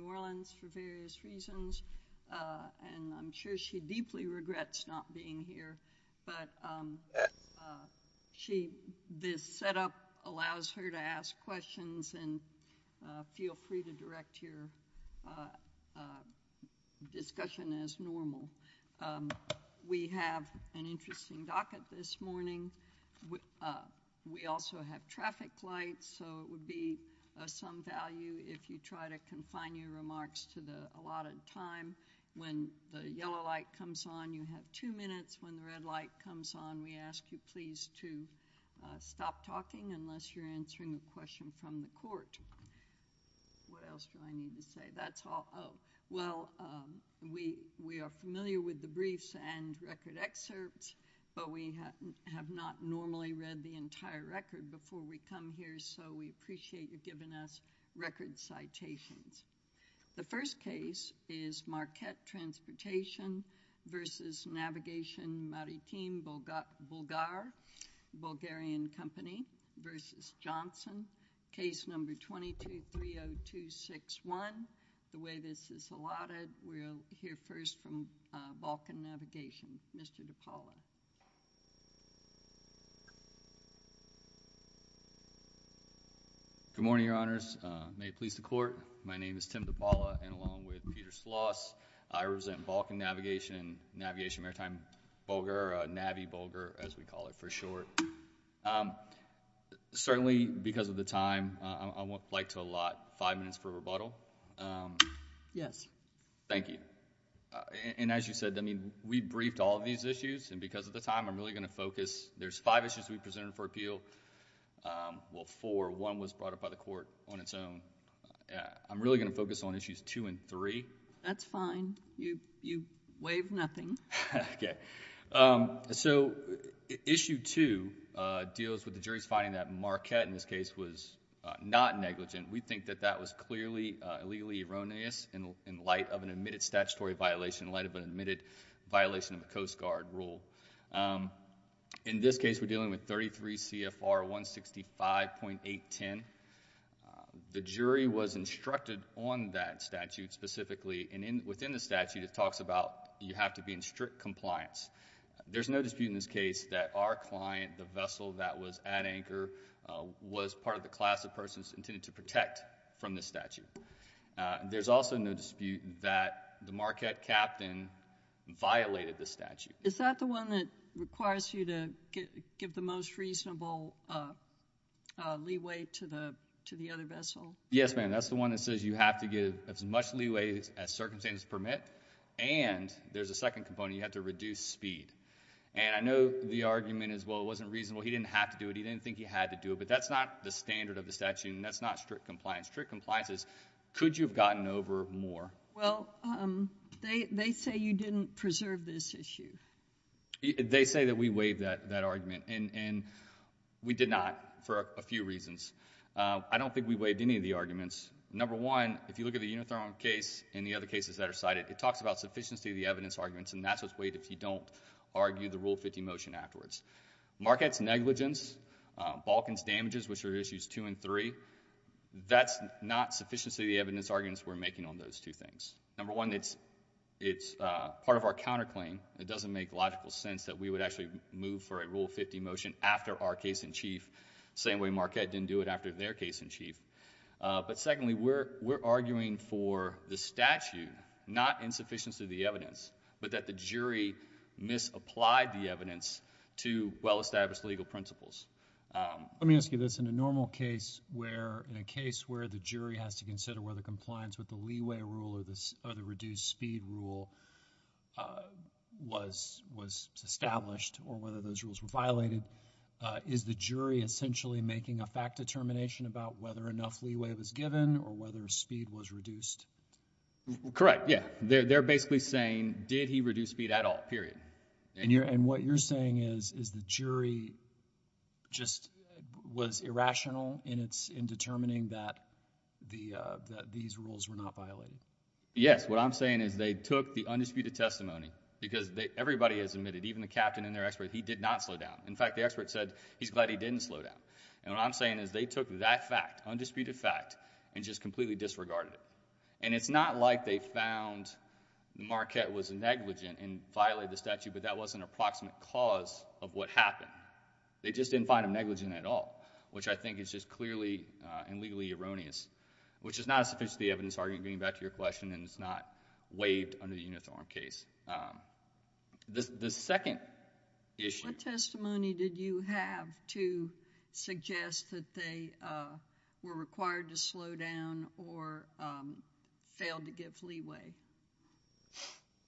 New Orleans for various reasons, and I'm sure she deeply regrets not being here, but this setup allows her to ask questions, and feel free to direct your discussion as normal. We have an interesting docket this morning. We also have traffic lights, so it would be of some value if you try to confine your remarks to the allotted time. When the yellow light comes on, you have two minutes. When the red light comes on, we ask you please to stop talking unless you're answering a question from the court. What else do I need to say? That's all. Well, we are familiar with the briefs and record excerpts, but we have not normally read the entire record before we come here, so we appreciate you giving us record citations. The first case is Marquette Transportation v. Navigation Maritim Bulgar, Bulgarian Company v. Thomas Johnson, case number 22-30261. The way this is allotted, we'll hear first from Balkan Navigation, Mr. DePaula. Good morning, Your Honors. May it please the Court. My name is Tim DePaula, and along with Peter Sloss, I represent Balkan Navigation, Navigation Maritime Bulgar, Navi Bulgar, as we call it for short. Certainly, because of the time, I would like to allot five minutes for rebuttal. Yes. Thank you. And as you said, we briefed all of these issues, and because of the time, I'm really going to focus. There's five issues we presented for appeal. Well, four. One was brought up by the Court on its own. I'm really going to focus on issues two and three. That's fine. You waived nothing. Okay. So, issue two deals with the jury's finding that Marquette, in this case, was not negligent. We think that that was clearly illegally erroneous in light of an admitted statutory violation, in light of an admitted violation of a Coast Guard rule. In this case, we're dealing with 33 CFR 165.810. The jury was instructed on that statute specifically, and within the statute, it talks about you have to be in strict compliance. There's no dispute in this case that our client, the vessel that was at anchor, was part of the class of persons intended to protect from this statute. There's also no dispute that the Marquette captain violated the statute. Is that the one that requires you to give the most reasonable leeway to the other vessel? Yes, ma'am. That's the one that says you have to give as much leeway as circumstances permit, and there's a second component. You have to reduce speed. And I know the argument is, well, it wasn't reasonable. He didn't have to do it. He didn't think he had to do it, but that's not the standard of the statute, and that's not strict compliance. Strict compliance is, could you have gotten over more? Well, they say you didn't preserve this issue. They say that we waived that argument, and we did not for a few reasons. I don't think we waived any of the arguments. Number one, if you look at the Unithrone case and the other cases that are cited, it talks about sufficiency of the evidence arguments, and that's what's waived if you don't argue the Rule 50 motion afterwards. Marquette's negligence, Balkan's damages, which are issues two and three, that's not sufficiency of the evidence arguments we're making on those two things. Number one, it's part of our counterclaim. It doesn't make logical sense that we would actually move for a Rule 50 motion after our case-in-chief, the same way Marquette didn't do it after their case-in-chief. But secondly, we're arguing for the statute, not insufficiency of the evidence, but that the jury misapplied the evidence to well-established legal principles. Let me ask you this. In a normal case where, in a case where the jury has to consider whether compliance with the leeway rule or the reduced speed rule was established or whether those rules were violated, is the jury essentially making a fact determination about whether enough leeway was given or whether speed was reduced? Correct, yeah. They're basically saying, did he reduce speed at all, period. And what you're saying is the jury just was irrational in determining that these rules were not violated? Yes. What I'm saying is they took the undisputed testimony, because everybody has admitted, even the captain and their expert, he did not slow down. In fact, the expert said he's glad he didn't slow down. And what I'm saying is they took that fact, undisputed fact, and just completely disregarded it. And it's not like they found Marquette was negligent and violated the statute, but that wasn't an approximate cause of what happened. They just didn't find him negligent at all, which I think is just clearly and legally erroneous, which is not a sufficient evidence argument, getting back to your question, and it's not waived under the Unithorne case. The second issue...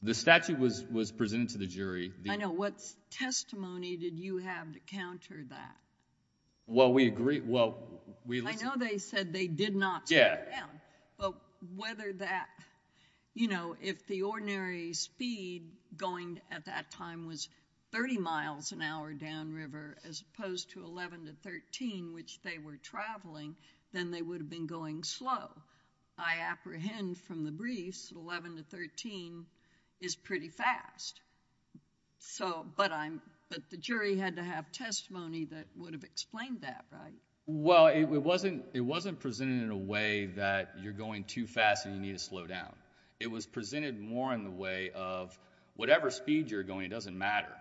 The statute was presented to the jury. I know. What testimony did you have to counter that? Well, we agreed... I know they said they did not slow down. But whether that... You know, if the ordinary speed going at that time was 30 miles an hour downriver, as opposed to 11 to 13, which they were traveling, then they would have been going slow. I apprehend from the briefs 11 to 13 is pretty fast. But the jury had to have testimony that would have explained that, right? Well, it wasn't presented in a way that you're going too fast and you need to slow down. It was presented more in the way of whatever speed you're going, it doesn't matter.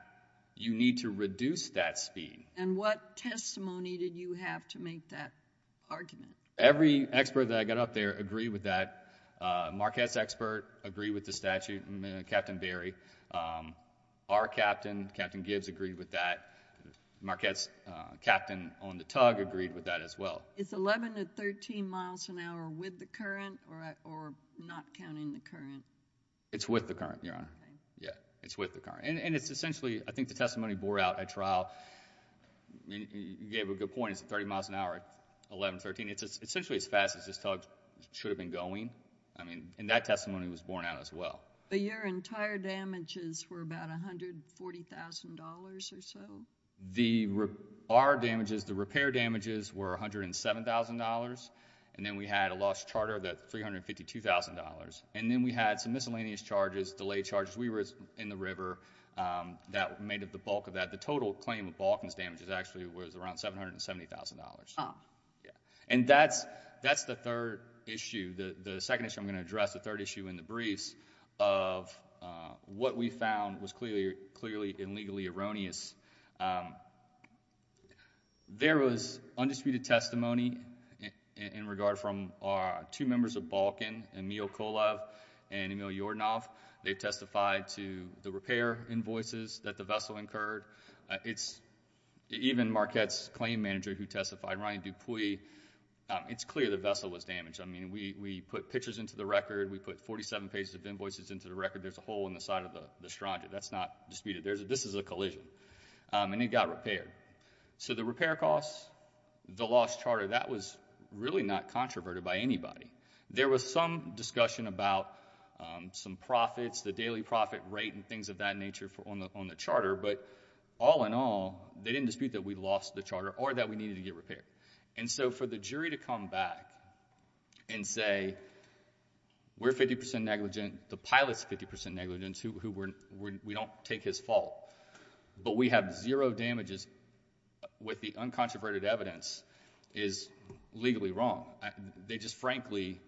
You need to reduce that speed. And what testimony did you have to make that argument? Every expert that I got up there agreed with that. Marquette's expert agreed with the statute, Captain Berry. Our captain, Captain Gibbs, agreed with that. Marquette's captain on the tug agreed with that as well. Is 11 to 13 miles an hour with the current or not counting the current? It's with the current, Your Honor. It's with the current. And it's essentially, I think the testimony bore out at trial... You gave a good point. It's at 30 miles an hour, 11 to 13. It's essentially as fast as this tug should have been going. I mean, and that testimony was borne out as well. But your entire damages were about $140,000 or so? Our damages, the repair damages, were $107,000. And then we had a lost charter of that $352,000. And then we had some miscellaneous charges, delayed charges. We were in the river that made up the bulk of that. The total claim of Balkan's damages actually was around $770,000. And that's the third issue. The second issue I'm going to address, the third issue in the briefs of what we found was clearly and legally erroneous. There was undisputed testimony in regard from our two members of Balkan, Emil Kolov and Emil Yordanov. They testified to the repair invoices that the vessel incurred. Even Marquette's claim manager who testified, Ryan Dupuis, it's clear the vessel was damaged. I mean, we put pictures into the record. We put 47 pages of invoices into the record. There's a hole in the side of the strata. That's not disputed. This is a collision. And it got repaired. So the repair costs, the lost charter, that was really not controverted by anybody. There was some discussion about some profits, the daily profit rate and things of that nature on the charter. But all in all, they didn't dispute that we lost the charter or that we needed to get repaired. And so for the jury to come back and say we're 50% negligent, the pilot's 50% negligent, we don't take his fault, but we have zero damages with the uncontroverted evidence is legally wrong. They just frankly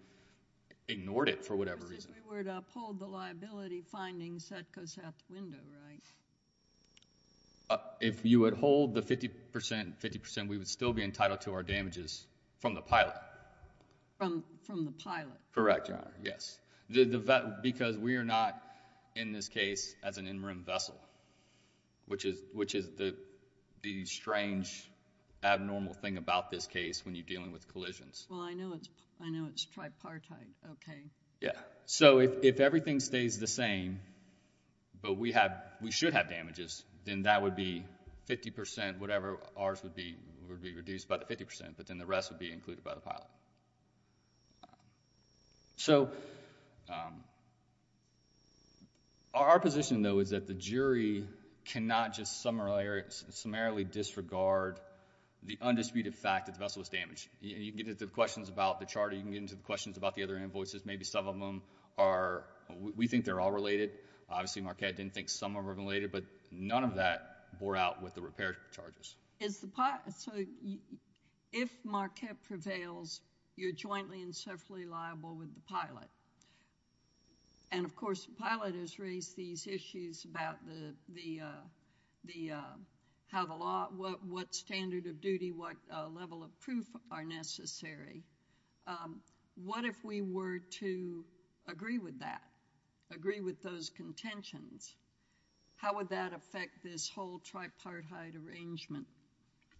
ignored it for whatever reason. If we were to uphold the liability findings, that goes out the window, right? If you would hold the 50%, we would still be entitled to our damages from the pilot. From the pilot. Correct, Your Honor. Yes. Because we are not, in this case, as an interim vessel, which is the strange, abnormal thing about this case when you're dealing with collisions. Well, I know it's tripartite. Okay. Yeah. So if everything stays the same, but we should have damages, then that would be 50%, whatever ours would be, would be reduced by the 50%, but then the rest would be included by the pilot. So our position, though, is that the jury cannot just summarily disregard the undisputed fact that the vessel was damaged. You can get into the questions about the charter. You can get into the questions about the other invoices. Maybe some of them are... we think they're all related. Obviously, Marquette didn't think some of them are related, but none of that bore out with the repair charges. So if Marquette prevails, you're jointly and separately liable with the pilot. And, of course, the pilot has raised these issues about how the law... what standard of duty, what level of proof are necessary. What if we were to agree with that, agree with those contentions? How would that affect this whole tripartite arrangement?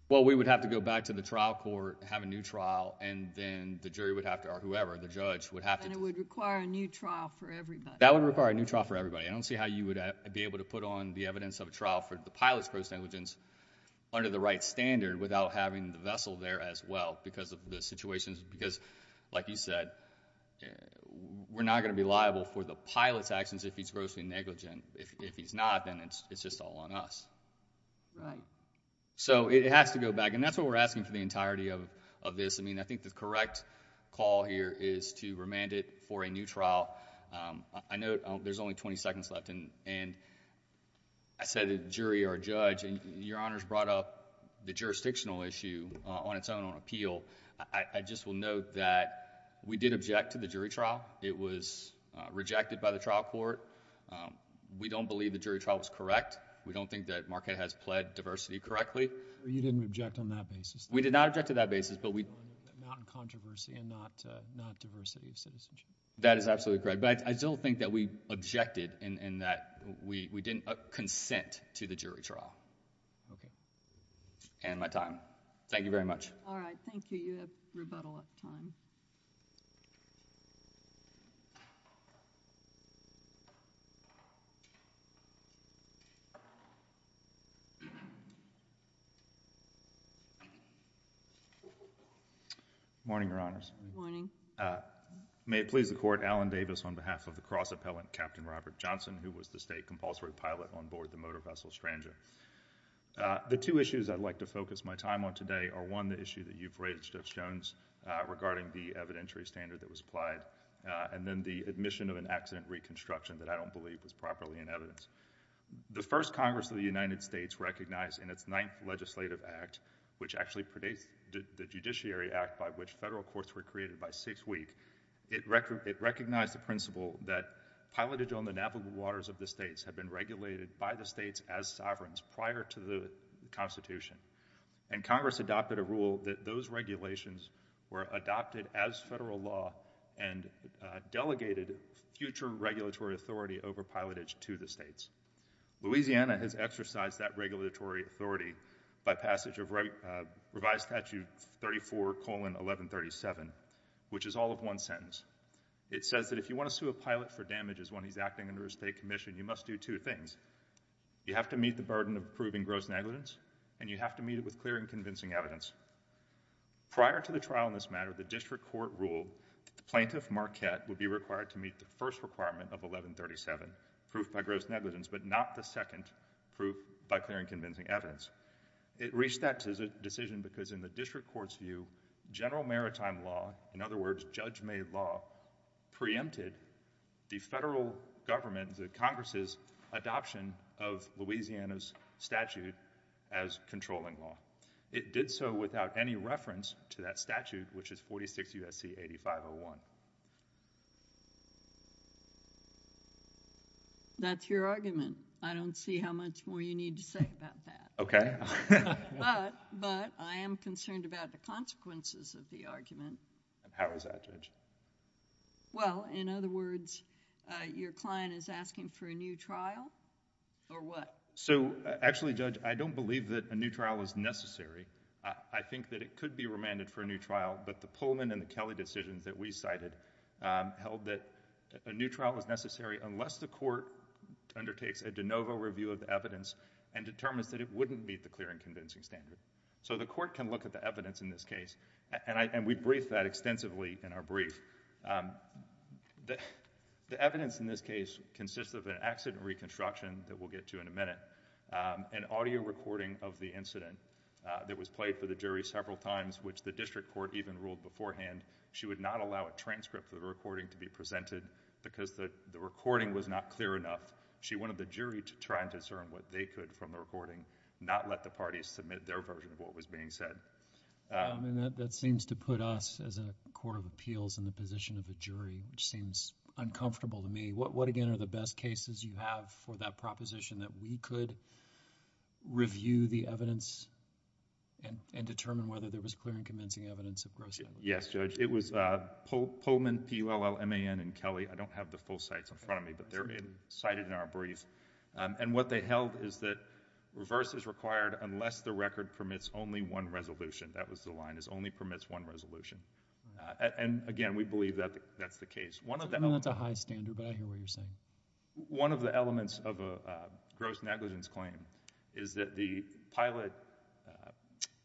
Well, we would have to go back to the trial court, have a new trial, and then the jury would have to... or whoever, the judge, would have to... And, it would require a new trial for everybody. That would require a new trial for everybody. I don't see how you would be able to put on the evidence of a trial for the pilot's gross negligence under the right standard without having the vessel there as well because of the situations. Because, like you said, we're not going to be liable for the pilot's actions if he's grossly negligent. If he's not, then it's just all on us. Right. So, it has to go back. And, that's what we're asking for the entirety of this. I mean, I think the correct call here is to remand it for a new trial. I know there's only 20 seconds left. And, I said a jury or a judge. And, Your Honors brought up the jurisdictional issue on its own on appeal. I just will note that we did object to the jury trial. It was rejected by the trial court. We don't believe the jury trial was correct. We don't think that Marquette has pled diversity correctly. You didn't object on that basis? We did not object to that basis. But, we... Not controversy and not diversity of citizenship. That is absolutely correct. But, I still think that we objected in that we didn't consent to the jury trial. Okay. And, my time. Thank you very much. All right. Thank you. You have rebuttal at the time. Good morning, Your Honors. Good morning. May it please the Court. Alan Davis on behalf of the cross-appellant, Captain Robert Johnson, who was the state compulsory pilot on board the motor vessel, Stranger. The two issues I'd like to focus my time on today are, one, the issue that you've raised, Judge Jones, regarding the evidentiary standard that was applied. And, then the admission of an accident reconstruction that I don't believe was properly in evidence. The first Congress of the United States recognized in its ninth legislative act, which actually predates the Judiciary Act by which federal courts were created by six weeks, it recognized the principle that pilotage on the navigable waters of the states had been regulated by the states as sovereigns prior to the Constitution. And, Congress adopted a rule that those regulations were adopted as federal law and delegated future regulatory authority over pilotage to the states. Louisiana has exercised that regulatory authority by passage of Revised Statute 34-1137, which is all of one sentence. It says that if you want to sue a pilot for damages when he's acting under a state commission, you must do two things. You have to meet the burden of proving gross negligence, and you have to meet it with clear and convincing evidence. Prior to the trial in this matter, the district court ruled that the plaintiff, Marquette, would be required to meet the first requirement of 1137, proof by gross negligence, but not the second, proof by clear and convincing evidence. It reached that decision because in the district court's view, general maritime law, in other words, judge-made law, preempted the federal government, the Congress' adoption of Louisiana's statute as controlling law. It did so without any reference to that statute, which is 46 U.S.C. 8501. That's your argument. I don't see how much more you need to say about that. Okay. But I am concerned about the consequences of the argument. How is that, Judge? Well, in other words, your client is asking for a new trial or what? Actually, Judge, I don't believe that a new trial is necessary. I think that it could be remanded for a new trial, but the Pullman and the Kelly decisions that we cited held that a new trial was necessary unless the court undertakes a de novo review of the evidence and determines that it wouldn't meet the clear and convincing standard. So the court can look at the evidence in this case, and we briefed that extensively in our brief. The evidence in this case consists of an accident reconstruction that we'll get to in a minute, an audio recording of the incident that was played for the jury several times, which the district court even ruled beforehand she would not allow a transcript of the recording to be presented because the recording was not clear enough. She wanted the jury to try and discern what they could from the recording, not let the parties submit their version of what was being said. That seems to put us as a court of appeals in the position of a jury, which seems uncomfortable to me. What, again, are the best cases you have for that proposition that we could review the evidence and determine whether there was clear and convincing evidence of gross negligence? Yes, Judge. It was Pullman, P-U-L-L-M-A-N, and Kelly. I don't have the full sites in front of me, but they're cited in our briefs. And what they held is that reverse is required unless the record permits only one resolution. That was the line, is only permits one resolution. And, again, we believe that that's the case. I know that's a high standard, but I hear what you're saying. One of the elements of a gross negligence claim is that the pilot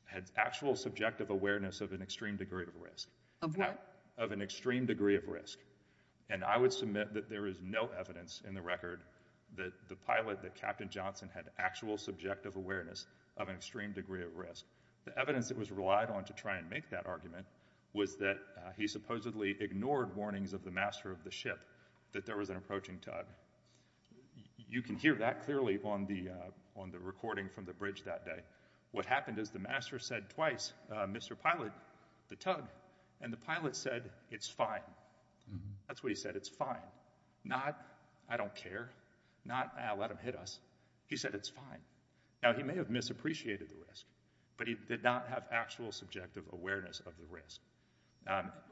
had actual subjective awareness of an extreme degree of risk. Of what? Of an extreme degree of risk. And I would submit that there is no evidence in the record that the pilot, that Captain Johnson, had actual subjective awareness of an extreme degree of risk. The evidence that was relied on to try and make that argument was that he supposedly ignored warnings of the master of the ship that there was an approaching tug. You can hear that clearly on the recording from the bridge that day. What happened is the master said twice, Mr. Pilot, the tug. And the pilot said, it's fine. That's what he said, it's fine. Not, I don't care. Not, I'll let him hit us. He said, it's fine. Now, he may have misappreciated the risk, but he did not have actual subjective awareness of the risk.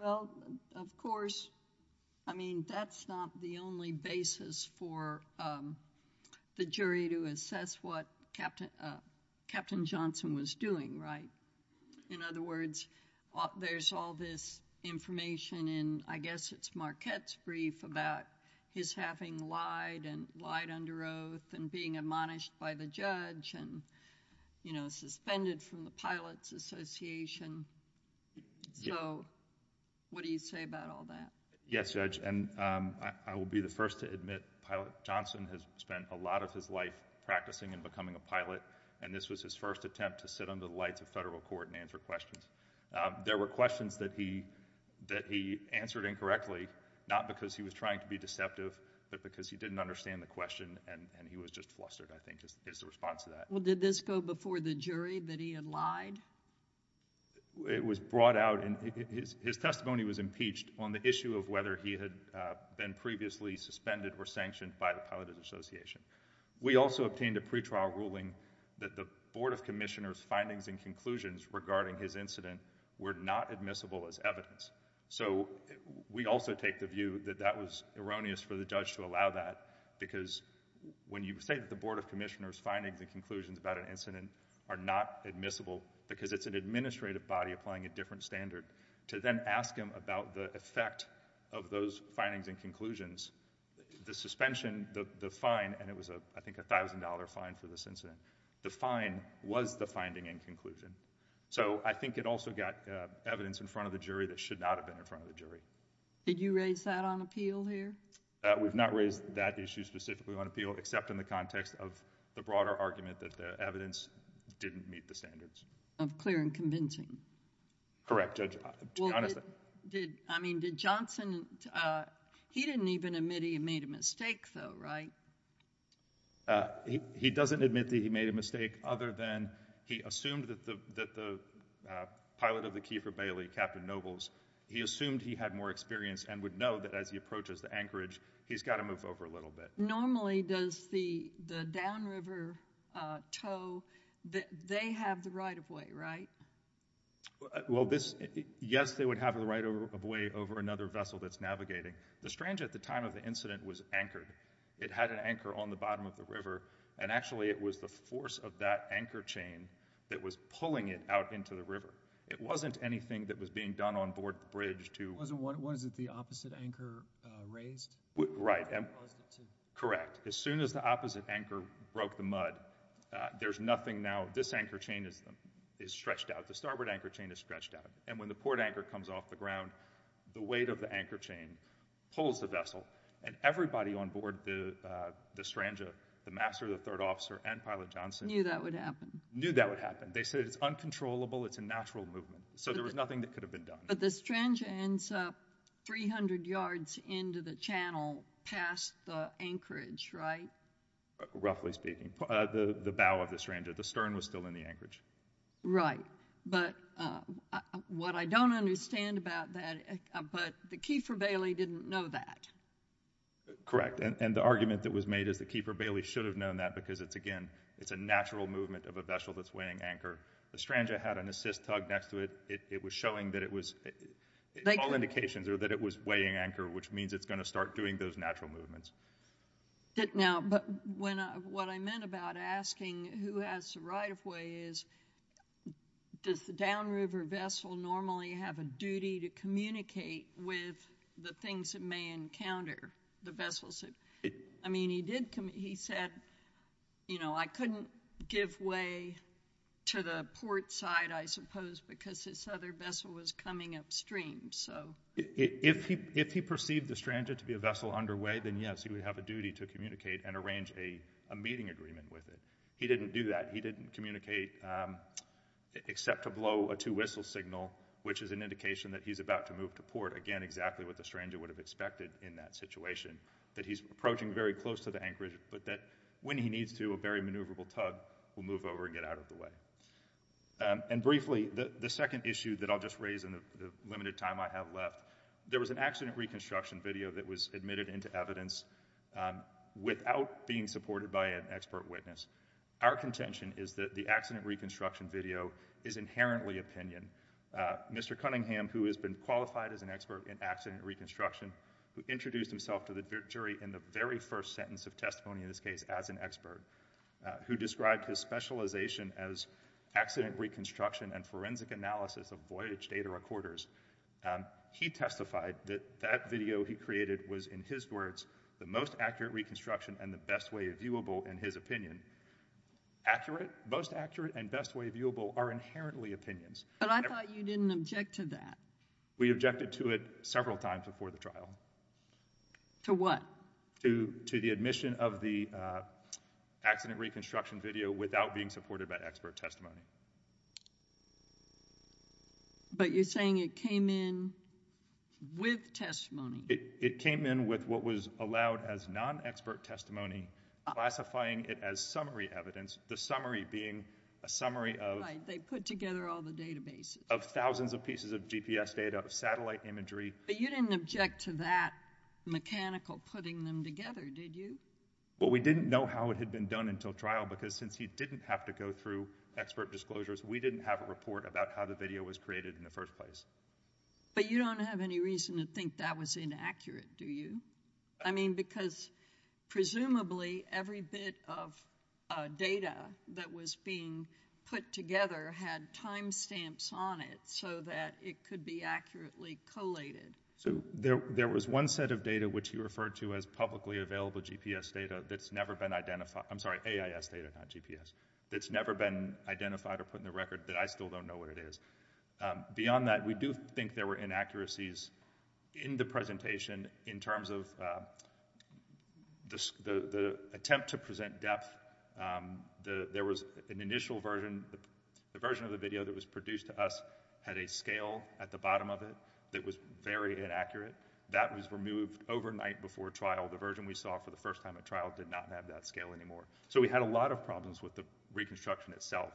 Well, of course, I mean, that's not the only basis for the jury to assess what Captain Johnson was doing, right? In other words, there's all this information in, I guess, it's Marquette's brief about his having lied and lied under oath and being admonished by the judge and, you know, suspended from the Pilot's Association. So, what do you say about all that? Yes, Judge, and I will be the first to admit Pilot Johnson has spent a lot of his life practicing and becoming a pilot, and this was his first attempt to sit under the lights of federal court and answer questions. There were questions that he answered incorrectly, not because he was trying to be deceptive, but because he didn't understand the question, and he was just flustered, I think, is the response to that. Well, did this go before the jury that he had lied? It was brought out, and his testimony was impeached on the issue of whether he had been previously suspended or sanctioned by the Pilot's Association. We also obtained a pretrial ruling that the Board of Commissioners' findings and conclusions regarding his incident were not admissible as evidence. So, we also take the view that that was erroneous for the judge to allow that because when you say that the Board of Commissioners' findings and conclusions about an incident are not admissible because it's an administrative body applying a different standard, to then ask him about the effect of those findings and conclusions, the suspension, the fine, and it was, I think, a $1,000 fine for this incident, the fine was the finding and conclusion. So, I think it also got evidence in front of the jury that should not have been in front of the jury. Did you raise that on appeal here? We've not raised that issue specifically on appeal except in the context of the broader argument that the evidence didn't meet the standards. Of clear and convincing. Correct, Judge. I mean, did Johnson, he didn't even admit he made a mistake, though, right? He doesn't admit that he made a mistake other than he assumed that the pilot of the Kiefer-Bailey, Captain Nobles, he assumed he had more experience and would know that as he approaches the anchorage, he's got to move over a little bit. Normally, does the downriver tow, they have the right-of-way, right? Well, yes, they would have the right-of-way over another vessel that's navigating. The Strange, at the time of the incident, was anchored. It had an anchor on the bottom of the river, and actually it was the force of that anchor chain that was pulling it out into the river. It wasn't anything that was being done on board the bridge to... Was it the opposite anchor raised? Right. Correct. As soon as the opposite anchor broke the mud, there's nothing now. This anchor chain is stretched out. The starboard anchor chain is stretched out. And when the port anchor comes off the ground, the weight of the anchor chain pulls the vessel, and everybody on board the Strangia, the master, the third officer, and Pilot Johnson... Knew that would happen. Knew that would happen. They said it's uncontrollable, it's a natural movement. So there was nothing that could have been done. But the Strangia ends up 300 yards into the channel past the anchorage, right? Roughly speaking. The bow of the Strangia. The stern was still in the anchorage. Right. But what I don't understand about that, but the keeper, Bailey, didn't know that. Correct. And the argument that was made is the keeper, Bailey, should have known that because, again, it's a natural movement of a vessel that's weighing anchor. The Strangia had an assist tug next to it. It was showing that it was... All indications are that it was weighing anchor, which means it's going to start doing those natural movements. Now, but what I meant about asking who has the right-of-way is, does the downriver vessel normally have a duty to communicate with the things it may encounter, the vessels that... I mean, he did... He said, you know, I couldn't give way to the port side, I suppose, because this other vessel was coming upstream, so... If he perceived the Strangia to be a vessel underway, then, yes, he would have a duty to communicate and arrange a meeting agreement with it. He didn't do that. He didn't communicate except to blow a two-whistle signal, which is an indication that he's about to move to port, again, exactly what the Strangia would have expected in that situation, that he's approaching very close to the anchorage, but that when he needs to, a very maneuverable tug will move over and get out of the way. And briefly, the second issue that I'll just raise in the limited time I have left, there was an accident reconstruction video that was admitted into evidence without being supported by an expert witness. Our contention is that the accident reconstruction video is inherently opinion. Mr. Cunningham, who has been qualified as an expert in accident reconstruction, who introduced himself to the jury in the very first sentence of testimony in this case as an expert, who described his specialization as accident reconstruction and forensic analysis of voyage data recorders, he testified that that video he created was, in his words, the most accurate reconstruction and the best way viewable in his opinion. Accurate? Most accurate and best way viewable are inherently opinions. But I thought you didn't object to that. We objected to it several times before the trial. To what? To the admission of the accident reconstruction video without being supported by expert testimony. But you're saying it came in with testimony. It came in with what was allowed as non-expert testimony, classifying it as summary evidence, the summary being a summary of... Right, they put together all the databases. Of thousands of pieces of GPS data, of satellite imagery. But you didn't object to that mechanical putting them together, did you? Well, we didn't know how it had been done until trial because since he didn't have to go through expert disclosures, we didn't have a report about how the video was created in the first place. But you don't have any reason to think that was inaccurate, do you? I mean, because presumably every bit of data that was being put together had time stamps on it so that it could be accurately collated. So there was one set of data which you referred to as publicly available GPS data that's never been identified. I'm sorry, AIS data, not GPS, that's never been identified or put in the record that I still don't know what it is. Beyond that, we do think there were inaccuracies in the presentation in terms of the attempt to present depth, there was an initial version, the version of the video that was produced to us had a scale at the bottom of it that was very inaccurate. That was removed overnight before trial. The version we saw for the first time at trial did not have that scale anymore. So we had a lot of problems with the reconstruction itself.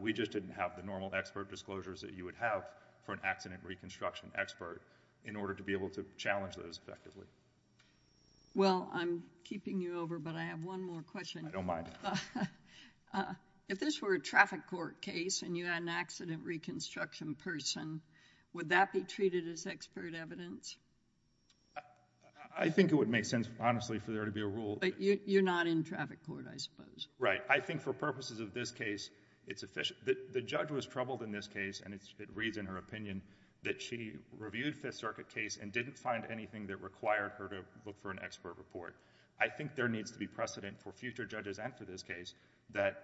We just didn't have the normal expert disclosures that you would have for an accident reconstruction expert in order to be able to challenge those effectively. Well, I'm keeping you over, but I have one more question. I don't mind. If this were a traffic court case and you had an accident reconstruction person, would that be treated as expert evidence? I think it would make sense, honestly, for there to be a rule... But you're not in traffic court, I suppose. Right. I think for purposes of this case, it's... The judge was troubled in this case, and it reads in her opinion that she reviewed Fifth Circuit case and didn't find anything that required her to look for an expert report. I think there needs to be precedent for future judges and for this case that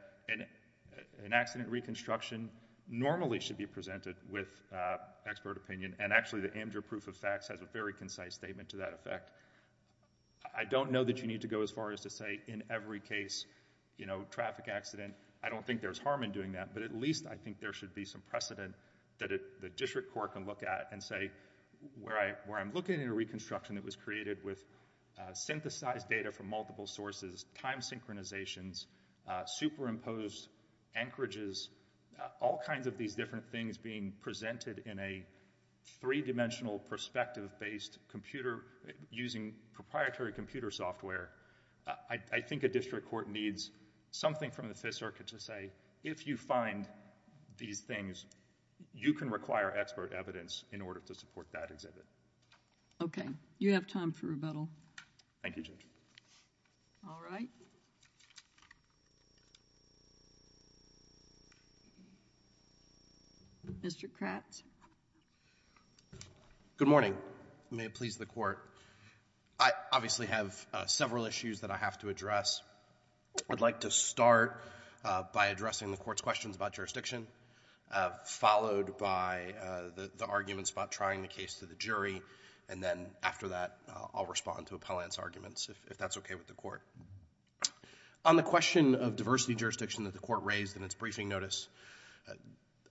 an accident reconstruction normally should be presented with expert opinion, and actually the Amdur Proof of Facts has a very concise statement to that effect. I don't know that you need to go as far as to say in every case, you know, traffic accident... I don't think there's harm in doing that, but at least I think there should be some precedent that the district court can look at and say, where I'm looking at a reconstruction that was created with synthesized data from multiple sources, time synchronizations, superimposed anchorages, all kinds of these different things being presented in a three-dimensional perspective-based computer using proprietary computer software. I think a district court needs something from the Fifth Circuit to say, if you find these things, you can require expert evidence in order to support that exhibit. Okay. You have time for rebuttal. Thank you, Judge. All right. Mr. Kratz. Good morning. May it please the Court. I obviously have several issues that I have to address. I'd like to start by addressing the Court's questions about jurisdiction, followed by the arguments about trying the case to the jury, and then after that, I'll respond to appellant's arguments, if that's okay with the Court. On the question of diversity jurisdiction that the Court raised in its briefing notice,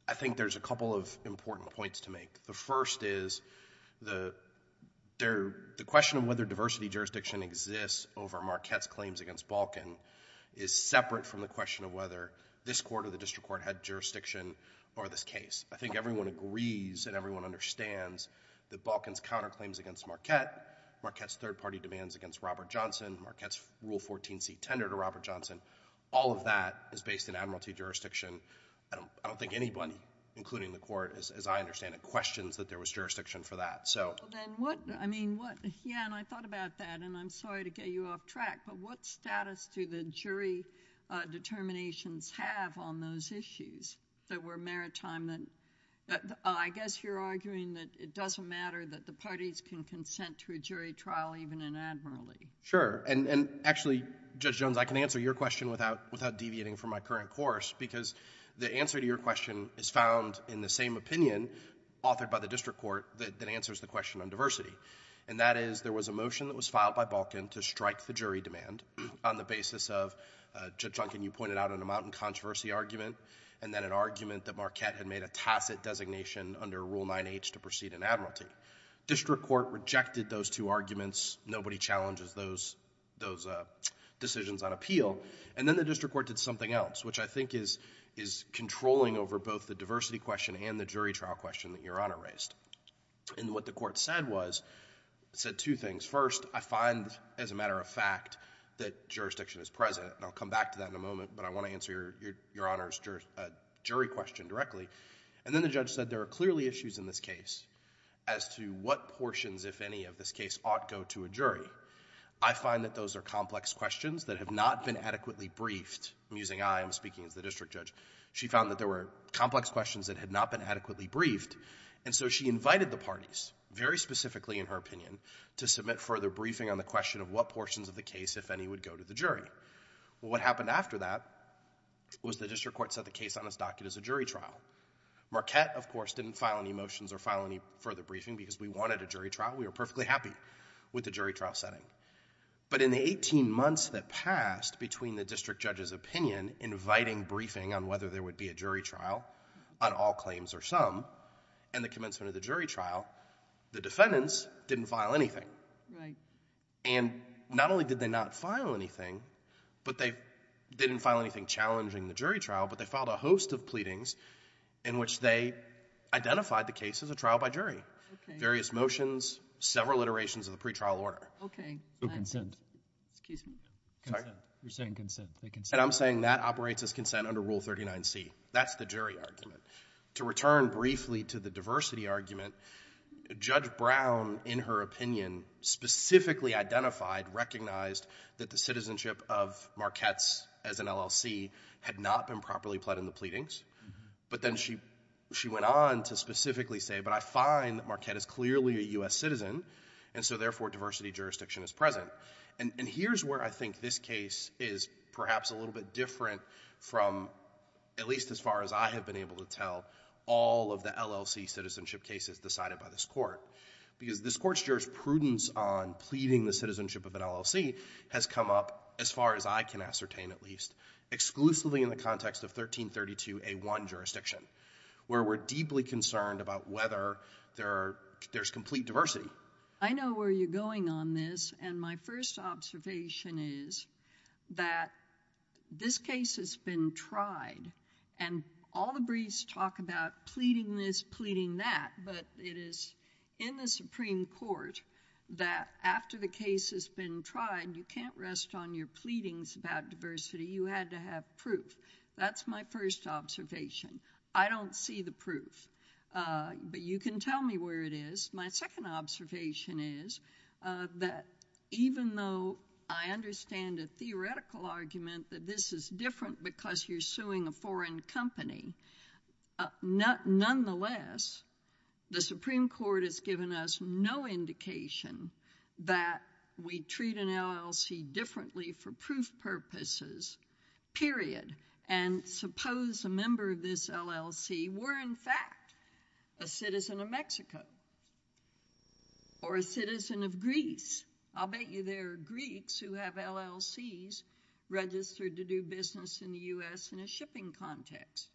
I think there's a couple of important points to make. The first is the question of whether diversity jurisdiction exists over Marquette's claims against Balkan is separate from the question of whether this Court or the district court had jurisdiction over this case. I think everyone agrees and everyone understands that Balkan's counterclaims against Marquette, Marquette's third-party demands against Robert Johnson, Marquette's Rule 14c tender to Robert Johnson, all of that is based in admiralty jurisdiction. I don't think anybody, including the Court, as I understand it, questions that there was jurisdiction for that. Then what... I mean, what... Yeah, and I thought about that, and I'm sorry to get you off track, but what status do the jury determinations have on those issues that were maritime that... I guess you're arguing that it doesn't matter that the parties can consent to a jury trial even in admiralty. Sure, and actually, Judge Jones, I can answer your question without deviating from my current course because the answer to your question is found in the same opinion authored by the district court that answers the question on diversity, and that is there was a motion that was filed by Balkan to strike the jury demand on the basis of... Judge Duncan, you pointed out an amount in controversy argument and then an argument that Marquette had made a tacit designation under Rule 9h to proceed in admiralty. District court rejected those two arguments. Nobody challenges those decisions on appeal. And then the district court did something else, which I think is controlling over both the diversity question and the jury trial question that Your Honor raised. And what the court said was... said two things. First, I find as a matter of fact that jurisdiction is present, and I'll come back to that in a moment, but I want to answer Your Honor's jury question directly. And then the judge said there are clearly issues in this case as to what portions, if any, of this case ought go to a jury. I find that those are complex questions that have not been adequately briefed. I'm using I. I'm speaking as the district judge. She found that there were complex questions that had not been adequately briefed, and so she invited the parties, very specifically in her opinion, to submit further briefing on the question of what portions of the case, if any, would go to the jury. Well, what happened after that was the district court set the case on its docket as a jury trial. Marquette, of course, didn't file any motions or file any further briefing because we wanted a jury trial. We were perfectly happy with the jury trial setting. But in the 18 months that passed between the district judge's opinion inviting briefing on whether there would be a jury trial, on all claims or some, and the commencement of the jury trial, the defendants didn't file anything. Right. And not only did they not file anything, but they didn't file anything challenging the jury trial, but they filed a host of pleadings in which they identified the case as a trial by jury. Okay. Various motions, several iterations of the pretrial order. Okay. So consent. Excuse me? Sorry? You're saying consent. And I'm saying that operates as consent under Rule 39C. That's the jury argument. To return briefly to the diversity argument, Judge Brown, in her opinion, specifically identified, recognized, that the citizenship of Marquette's, as an LLC, had not been properly pled in the pleadings. But then she went on to specifically say, but I find that Marquette is clearly a U.S. citizen, and so therefore diversity jurisdiction is present. And here's where I think this case is perhaps a little bit different from, at least as far as I have been able to tell, all of the LLC citizenship cases decided by this court. Because this court's jurisprudence on pleading the citizenship of an LLC has come up, as far as I can ascertain at least, exclusively in the context of 1332A1 jurisdiction, where we're deeply concerned about whether there's complete diversity. I know where you're going on this, and my first observation is that this case has been tried, and all the briefs talk about pleading this, pleading that, but it is in the Supreme Court that after the case has been tried, you can't rest on your pleadings about diversity. You had to have proof. That's my first observation. I don't see the proof. But you can tell me where it is. My second observation is that even though I understand a theoretical argument that this is different because you're suing a foreign company, nonetheless, the Supreme Court has given us no indication that we treat an LLC differently for proof purposes, period. And suppose a member of this LLC were in fact a citizen of Mexico or a citizen of Greece. I'll bet you there are Greeks who have LLCs registered to do business in the U.S. in a shipping context.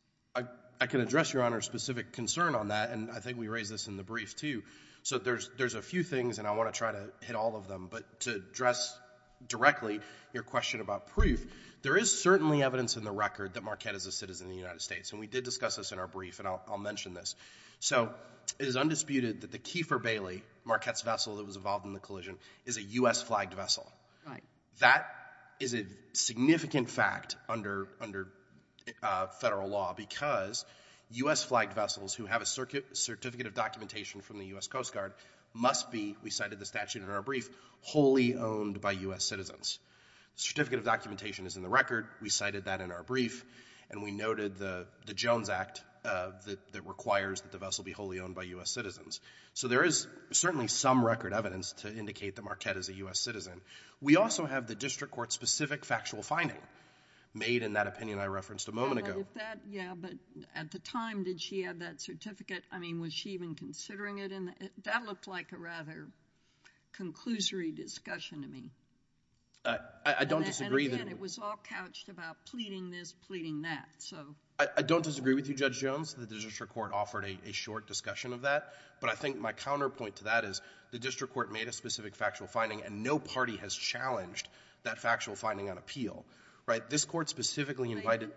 I can address Your Honor's specific concern on that, and I think we raised this in the brief, too. So there's a few things, and I want to try to hit all of them, but to address directly your question about proof, there is certainly evidence in the record that Marquette is a citizen of the United States, and we did discuss this in our brief, and I'll mention this. So it is undisputed that the Kiefer Bailey Marquette's vessel that was involved in the collision is a U.S.-flagged vessel. That is a significant fact under federal law because U.S.-flagged vessels who have a certificate of documentation from the U.S. Coast Guard must be, we cited the statute in our brief, wholly owned by U.S. citizens. We cited that in our brief, and we noted the Jones Act that requires that the vessel be wholly owned by U.S. citizens. So there is certainly some record evidence to indicate that Marquette is a U.S. citizen. We also have the district court's specific factual finding made in that opinion I referenced a moment ago. But at the time, did she have that certificate? I mean, was she even considering it? That looked like a rather conclusory discussion to me. I don't disagree. Again, it was all couched about pleading this, pleading that. I don't disagree with you, Judge Jones. The district court offered a short discussion of that. But I think my counterpoint to that is the district court made a specific factual finding and no party has challenged that factual finding on appeal. This court specifically invited...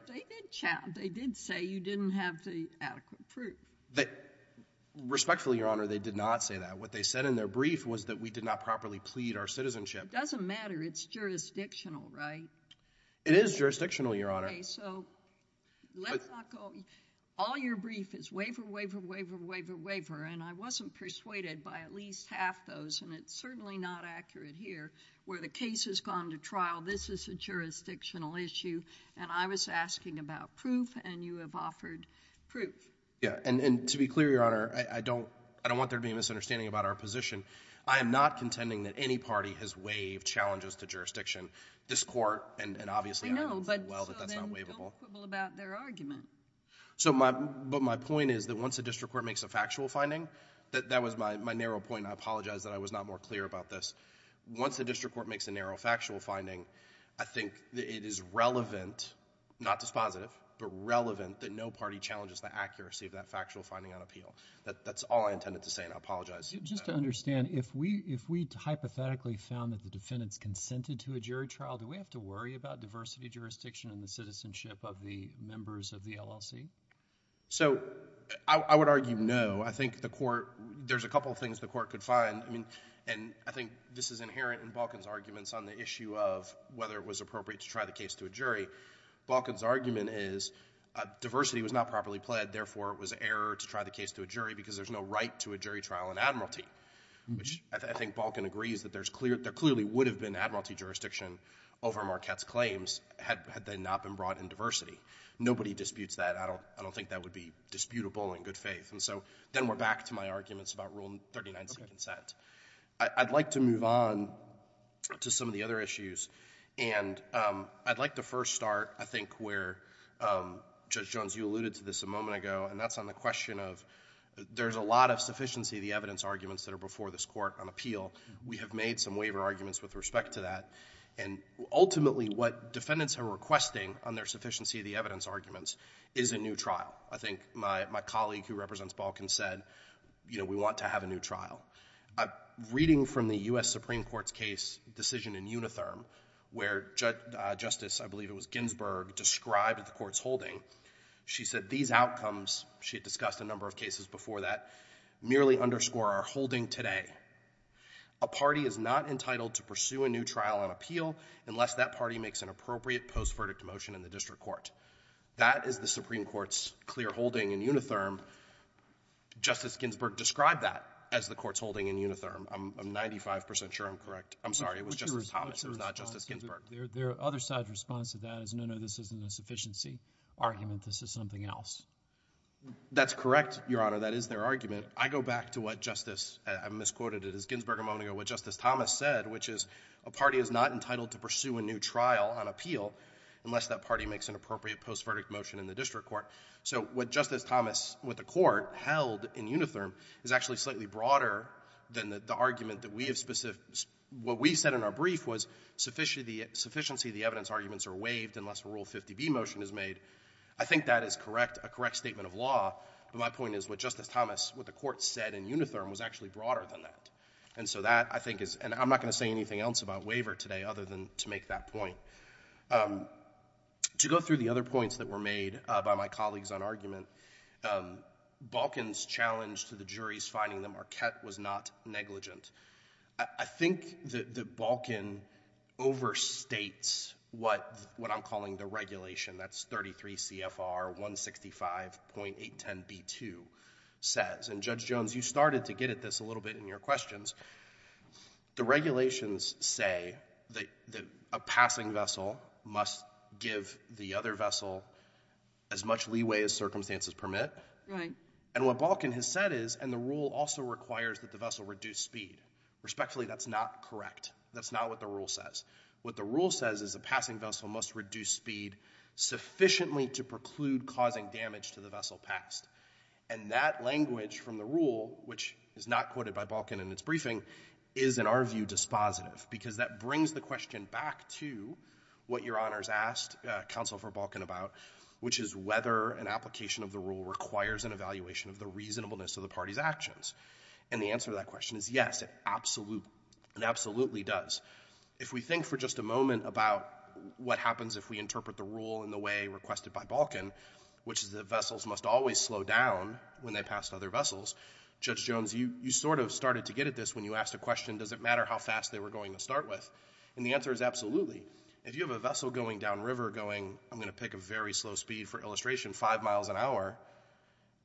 They did say you didn't have the adequate proof. Respectfully, Your Honor, they did not say that. What they said in their brief was that we did not properly plead our citizenship. It doesn't matter. It's jurisdictional, right? It is jurisdictional, Your Honor. Okay, so let's not go... All your brief is waiver, waiver, waiver, waiver, waiver, and I wasn't persuaded by at least half those, and it's certainly not accurate here. Where the case has gone to trial, this is a jurisdictional issue, and I was asking about proof, and you have offered proof. Yeah, and to be clear, Your Honor, I don't want there to be a misunderstanding about our position. I am not contending that any party has waived challenges to jurisdiction. This court, and obviously... I know, but so then don't quibble about their argument. But my point is that once a district court makes a factual finding... That was my narrow point, and I apologize that I was not more clear about this. Once a district court makes a narrow factual finding, I think it is relevant, not dispositive, but relevant that no party challenges the accuracy of that factual finding on appeal. That's all I intended to say, and I apologize. Just to understand, if we hypothetically found that the defendants consented to a jury trial, do we have to worry about diversity, jurisdiction, and the citizenship of the members of the LLC? So I would argue no. I think the court... There's a couple of things the court could find, and I think this is inherent in Balkan's arguments on the issue of whether it was appropriate to try the case to a jury. Balkan's argument is diversity was not properly pled, therefore it was error to try the case to a jury because there's no right to a jury trial in admiralty, which I think Balkan agrees that there clearly would have been admiralty jurisdiction over Marquette's claims had they not been brought in diversity. Nobody disputes that. I don't think that would be disputable in good faith. And so then we're back to my arguments about Rule 39C consent. I'd like to move on to some of the other issues, and I'd like to first start, I think, where Judge Jones, you alluded to this a moment ago, and that's on the question of there's a lot of sufficiency of the evidence arguments that are before this court on appeal. We have made some waiver arguments with respect to that, and ultimately what defendants are requesting on their sufficiency of the evidence arguments is a new trial. I think my colleague who represents Balkan said, you know, we want to have a new trial. Reading from the U.S. Supreme Court's case decision in Unitherm, where Justice, I believe it was Ginsburg, described at the court's holding, she said these outcomes, she had discussed a number of cases before that, merely underscore our holding today. A party is not entitled to pursue a new trial on appeal unless that party makes an appropriate post-verdict motion in the district court. That is the Supreme Court's clear holding in Unitherm. Justice Ginsburg described that as the court's holding in Unitherm. I'm 95% sure I'm correct. I'm sorry, it was Justice Thomas, it was not Justice Ginsburg. The other side's response to that is, no, no, this isn't a sufficiency argument. This is something else. That's correct, Your Honor. That is their argument. I go back to what Justice, I misquoted it as Ginsburg a moment ago, what Justice Thomas said, which is a party is not entitled to pursue a new trial on appeal unless that party makes an appropriate post-verdict motion in the district court. So what Justice Thomas with the court held in Unitherm is actually slightly broader than the argument that we have, what we said in our brief was sufficiency of the evidence arguments are waived unless a Rule 50B motion is made. I think that is correct, a correct statement of law, but my point is what Justice Thomas, what the court said in Unitherm was actually broader than that. And so that I think is, and I'm not going to say anything else about waiver today other than to make that point. To go through the other points that were made by my colleagues on argument, Balkin's challenge to the jury's finding that Marquette was not negligent. I think that Balkin overstates what I'm calling the regulation, that's 33 CFR 165.810B2 says. And Judge Jones, you started to get at this a little bit in your questions. The regulations say that a passing vessel must give the other vessel as much leeway as circumstances permit. Right. And what Balkin has said is, and the rule also requires that the vessel reduce speed. Respectfully, that's not correct. That's not what the rule says. What the rule says is a passing vessel must reduce speed sufficiently to preclude causing damage to the vessel passed. And that language from the rule, which is not quoted by Balkin in its briefing, is in our view dispositive. Because that brings the question back to what Your Honor's asked counsel for Balkin about, which is whether an application of the rule requires an evaluation of the reasonableness of the party's actions. And the answer to that question is yes, it absolutely does. If we think for just a moment about what happens if we interpret the rule in the way requested by Balkin, which is that vessels must always slow down when they pass other vessels, Judge Jones, you sort of started to get at this when you asked a question, does it matter how fast they were going to start with? And the answer is absolutely. If you have a vessel going downriver going, I'm going to pick a very slow speed for illustration, five miles an hour,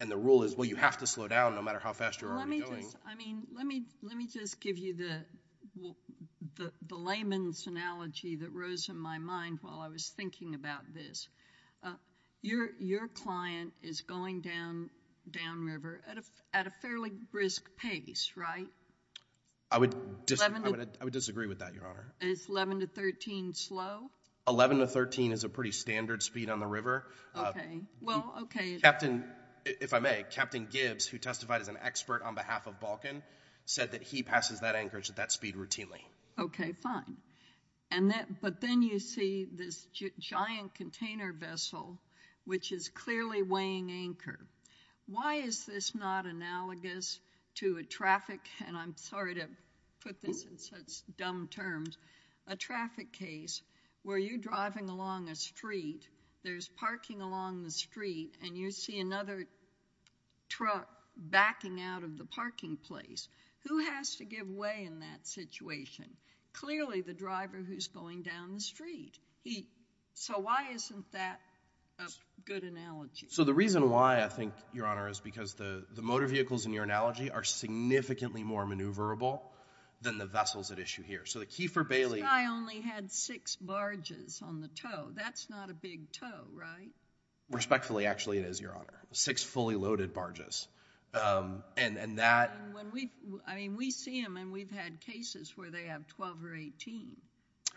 and the rule is, well, you have to slow down no matter how fast you're already going. I mean, let me just give you the layman's analogy that rose in my mind while I was thinking about this. Your client is going downriver at a fairly brisk pace, right? I would disagree with that, Your Honor. Is 11 to 13 slow? 11 to 13 is a pretty standard speed on the river. Okay, well, okay. Captain, if I may, Captain Gibbs, who testified as an expert on behalf of Balkin, said that he passes that anchorage at that speed routinely. Okay, fine. But then you see this giant container vessel, which is clearly weighing anchor. Why is this not analogous to a traffic, and I'm sorry to put this in such dumb terms, a traffic case where you're driving along a street, there's parking along the street, and you see another truck backing out of the parking place. Who has to give way in that situation? Clearly the driver who's going down the street. So why isn't that a good analogy? So the reason why, I think, Your Honor, is because the motor vehicles in your analogy are significantly more maneuverable than the vessels at issue here. So the key for Bailey... This guy only had six barges on the tow. That's not a big tow, right? Respectfully, actually, it is, Your Honor. Six fully loaded barges. And that... I mean, we see them, and we've had cases where they have 12 or 18,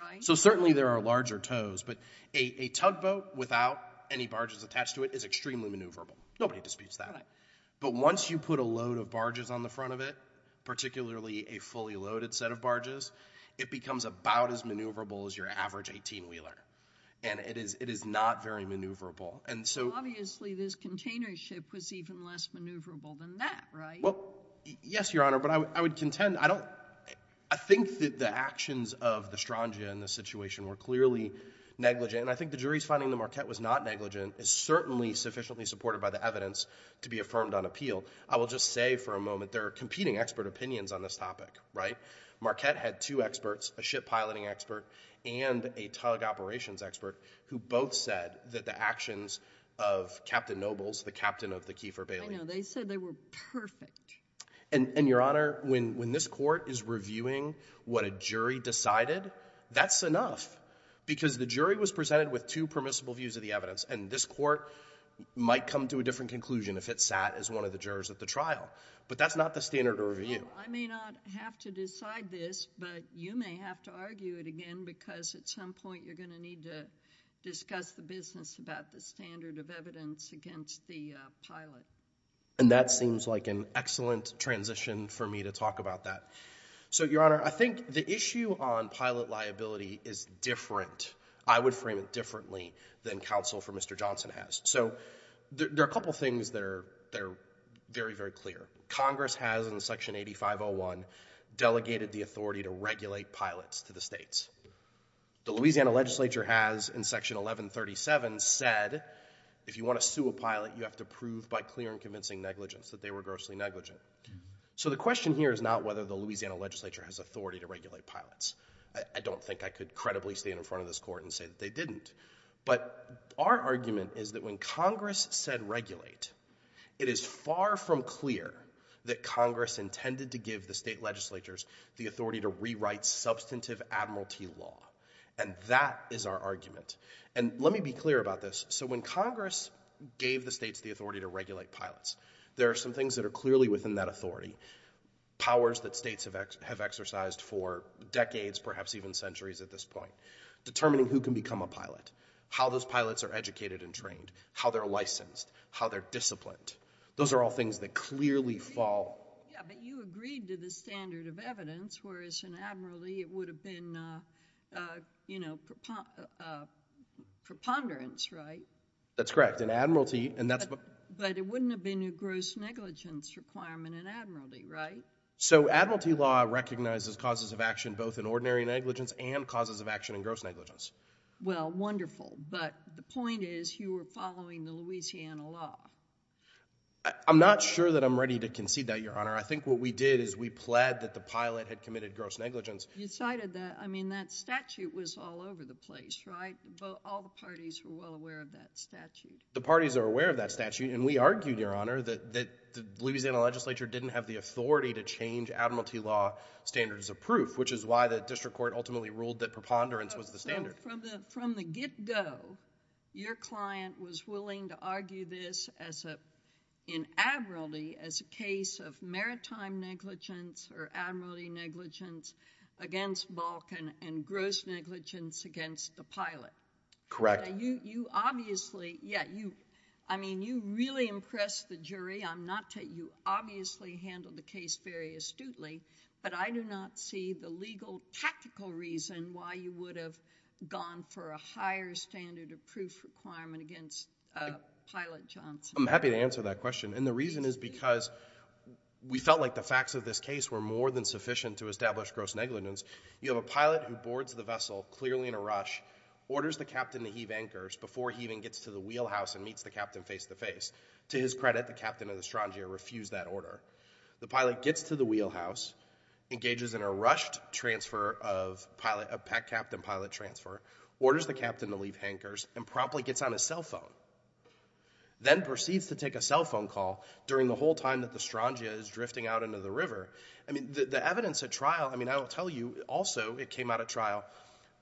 right? So certainly there are larger tows, but a tugboat without any barges attached to it is extremely maneuverable. Nobody disputes that. But once you put a load of barges on the front of it, particularly a fully loaded set of barges, it becomes about as maneuverable as your average 18-wheeler. And it is not very maneuverable. And so... Obviously, this container ship was even less maneuverable than that, right? Well, yes, Your Honor, but I would contend... I don't... I think that the actions of the Strangia in this situation were clearly negligent, and I think the jury's finding the Marquette was not negligent. It's certainly sufficiently supported by the evidence to be affirmed on appeal. I will just say for a moment there are competing expert opinions on this topic, right? Marquette had two experts, a ship piloting expert and a tug operations expert, who both said that the actions of Captain Nobles, the captain of the Keefer Bailey... I know, they said they were perfect. And, Your Honor, when this court is reviewing what a jury decided, that's enough. Because the jury was presented with two permissible views of the evidence, and this court might come to a different conclusion if it sat as one of the jurors at the trial. But that's not the standard of review. Well, I may not have to decide this, but you may have to argue it again, because at some point you're going to need to discuss the business about the standard of evidence against the pilot. And that seems like an excellent transition for me to talk about that. So, Your Honor, I think the issue on pilot liability is different, I would frame it differently, than counsel for Mr. Johnson has. So there are a couple things that are very, very clear. Congress has, in Section 8501, delegated the authority to regulate pilots to the states. The Louisiana legislature has, in Section 1137, said, if you want to sue a pilot, you have to prove by clear and convincing negligence that they were grossly negligent. So the question here is not whether the Louisiana legislature has authority to regulate pilots. I don't think I could credibly stand in front of this court and say that they didn't. But our argument is that when Congress said regulate, it is far from clear that Congress intended to give the state legislatures the authority to rewrite substantive admiralty law. And that is our argument. And let me be clear about this. So when Congress gave the states the authority to regulate pilots, there are some things that are clearly within that authority, powers that states have exercised for decades, perhaps even centuries at this point, determining who can become a pilot, how those pilots are educated and trained, how they're licensed, how they're disciplined. Those are all things that clearly fall... Yeah, but you agreed to the standard of evidence, whereas in admiralty it would have been, you know, preponderance, right? That's correct. In admiralty... But it wouldn't have been a gross negligence requirement in admiralty, right? So admiralty law recognizes causes of action both in ordinary negligence and causes of action in gross negligence. Well, wonderful, but the point is you were following the Louisiana law. I'm not sure that I'm ready to concede that, Your Honor. I think what we did is we pled that the pilot had committed gross negligence. You cited that. I mean, that statute was all over the place, right? All the parties were well aware of that statute. The parties are aware of that statute, and we argued, Your Honor, that the Louisiana legislature didn't have the authority to change admiralty law standards of proof, which is why the district court ultimately ruled that preponderance was the standard. So from the get-go, your client was willing to argue this in admiralty as a case of maritime negligence or admiralty negligence against Balkan and gross negligence against the pilot. Correct. You obviously... Yeah, you... I mean, you really impressed the jury. You obviously handled the case very astutely, but I do not see the legal, tactical reason why you would have gone for a higher standard of proof requirement against Pilot Johnson. I'm happy to answer that question, and the reason is because we felt like the facts of this case were more than sufficient to establish gross negligence. You have a pilot who boards the vessel clearly in a rush, orders the captain to heave anchors before he even gets to the wheelhouse and meets the captain face-to-face. To his credit, the captain of the Strangia refused that order. The pilot gets to the wheelhouse, engages in a rushed transfer of pilot... a packed captain pilot transfer, orders the captain to leave anchors and promptly gets on his cell phone, then proceeds to take a cell phone call during the whole time that the Strangia is drifting out into the river. I mean, the evidence at trial... I mean, I will tell you, also, it came out at trial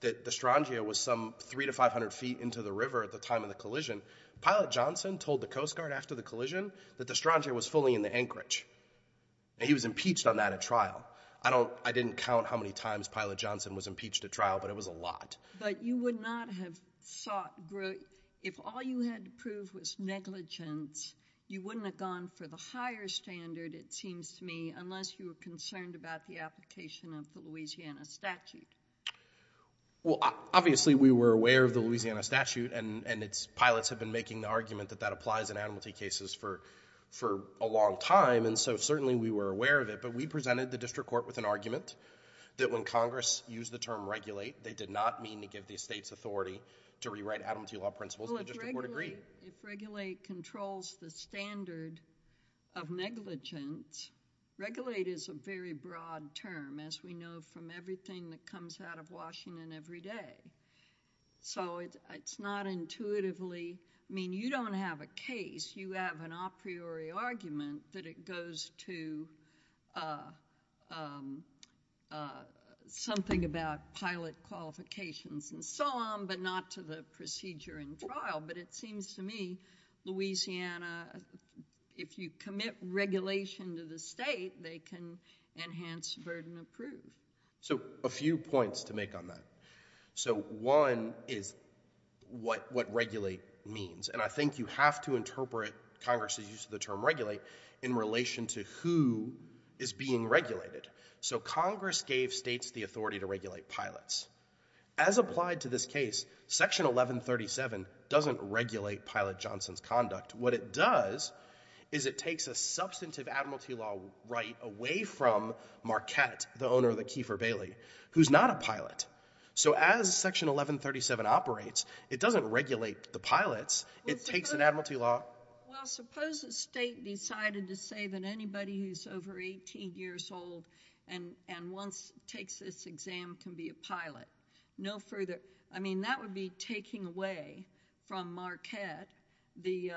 that the Strangia was some 300 to 500 feet into the river at the time of the collision. Pilot Johnson told the Coast Guard after the collision that the Strangia was fully in the anchorage, and he was impeached on that at trial. I don't... I didn't count how many times Pilot Johnson was impeached at trial, but it was a lot. But you would not have sought... If all you had to prove was negligence, you wouldn't have gone for the higher standard, it seems to me, unless you were concerned about the application of the Louisiana statute. Well, obviously, we were aware of the Louisiana statute, and its pilots have been making the argument that that applies in animality cases for a long time, and so certainly we were aware of it. But we presented the district court with an argument that when Congress used the term regulate, they did not mean to give these states authority to rewrite Adam T. Law principles. Well, if regulate controls the standard of negligence, regulate is a very broad term, as we know from everything that comes out of Washington every day. So it's not intuitively... I mean, you don't have a case, you have an a priori argument that it goes to something about pilot qualifications and so on, but not to the procedure in trial. But it seems to me Louisiana, if you commit regulation to the state, they can enhance burden of proof. So a few points to make on that. So one is what regulate means, and I think you have to interpret Congress's use of the term regulate in relation to who is being regulated. So Congress gave states the authority to regulate pilots. As applied to this case, Section 1137 doesn't regulate Pilot Johnson's conduct. What it does is it takes a substantive Adam T. Law right away from Marquette, the owner of the Kiefer Bailey, who's not a pilot. So as Section 1137 operates, it doesn't regulate the pilots, it takes an Adam T. Law... Well, suppose the state decided to say that anybody who's over 18 years old and once takes this exam can be a pilot. No further... I mean, that would be taking away from Marquette the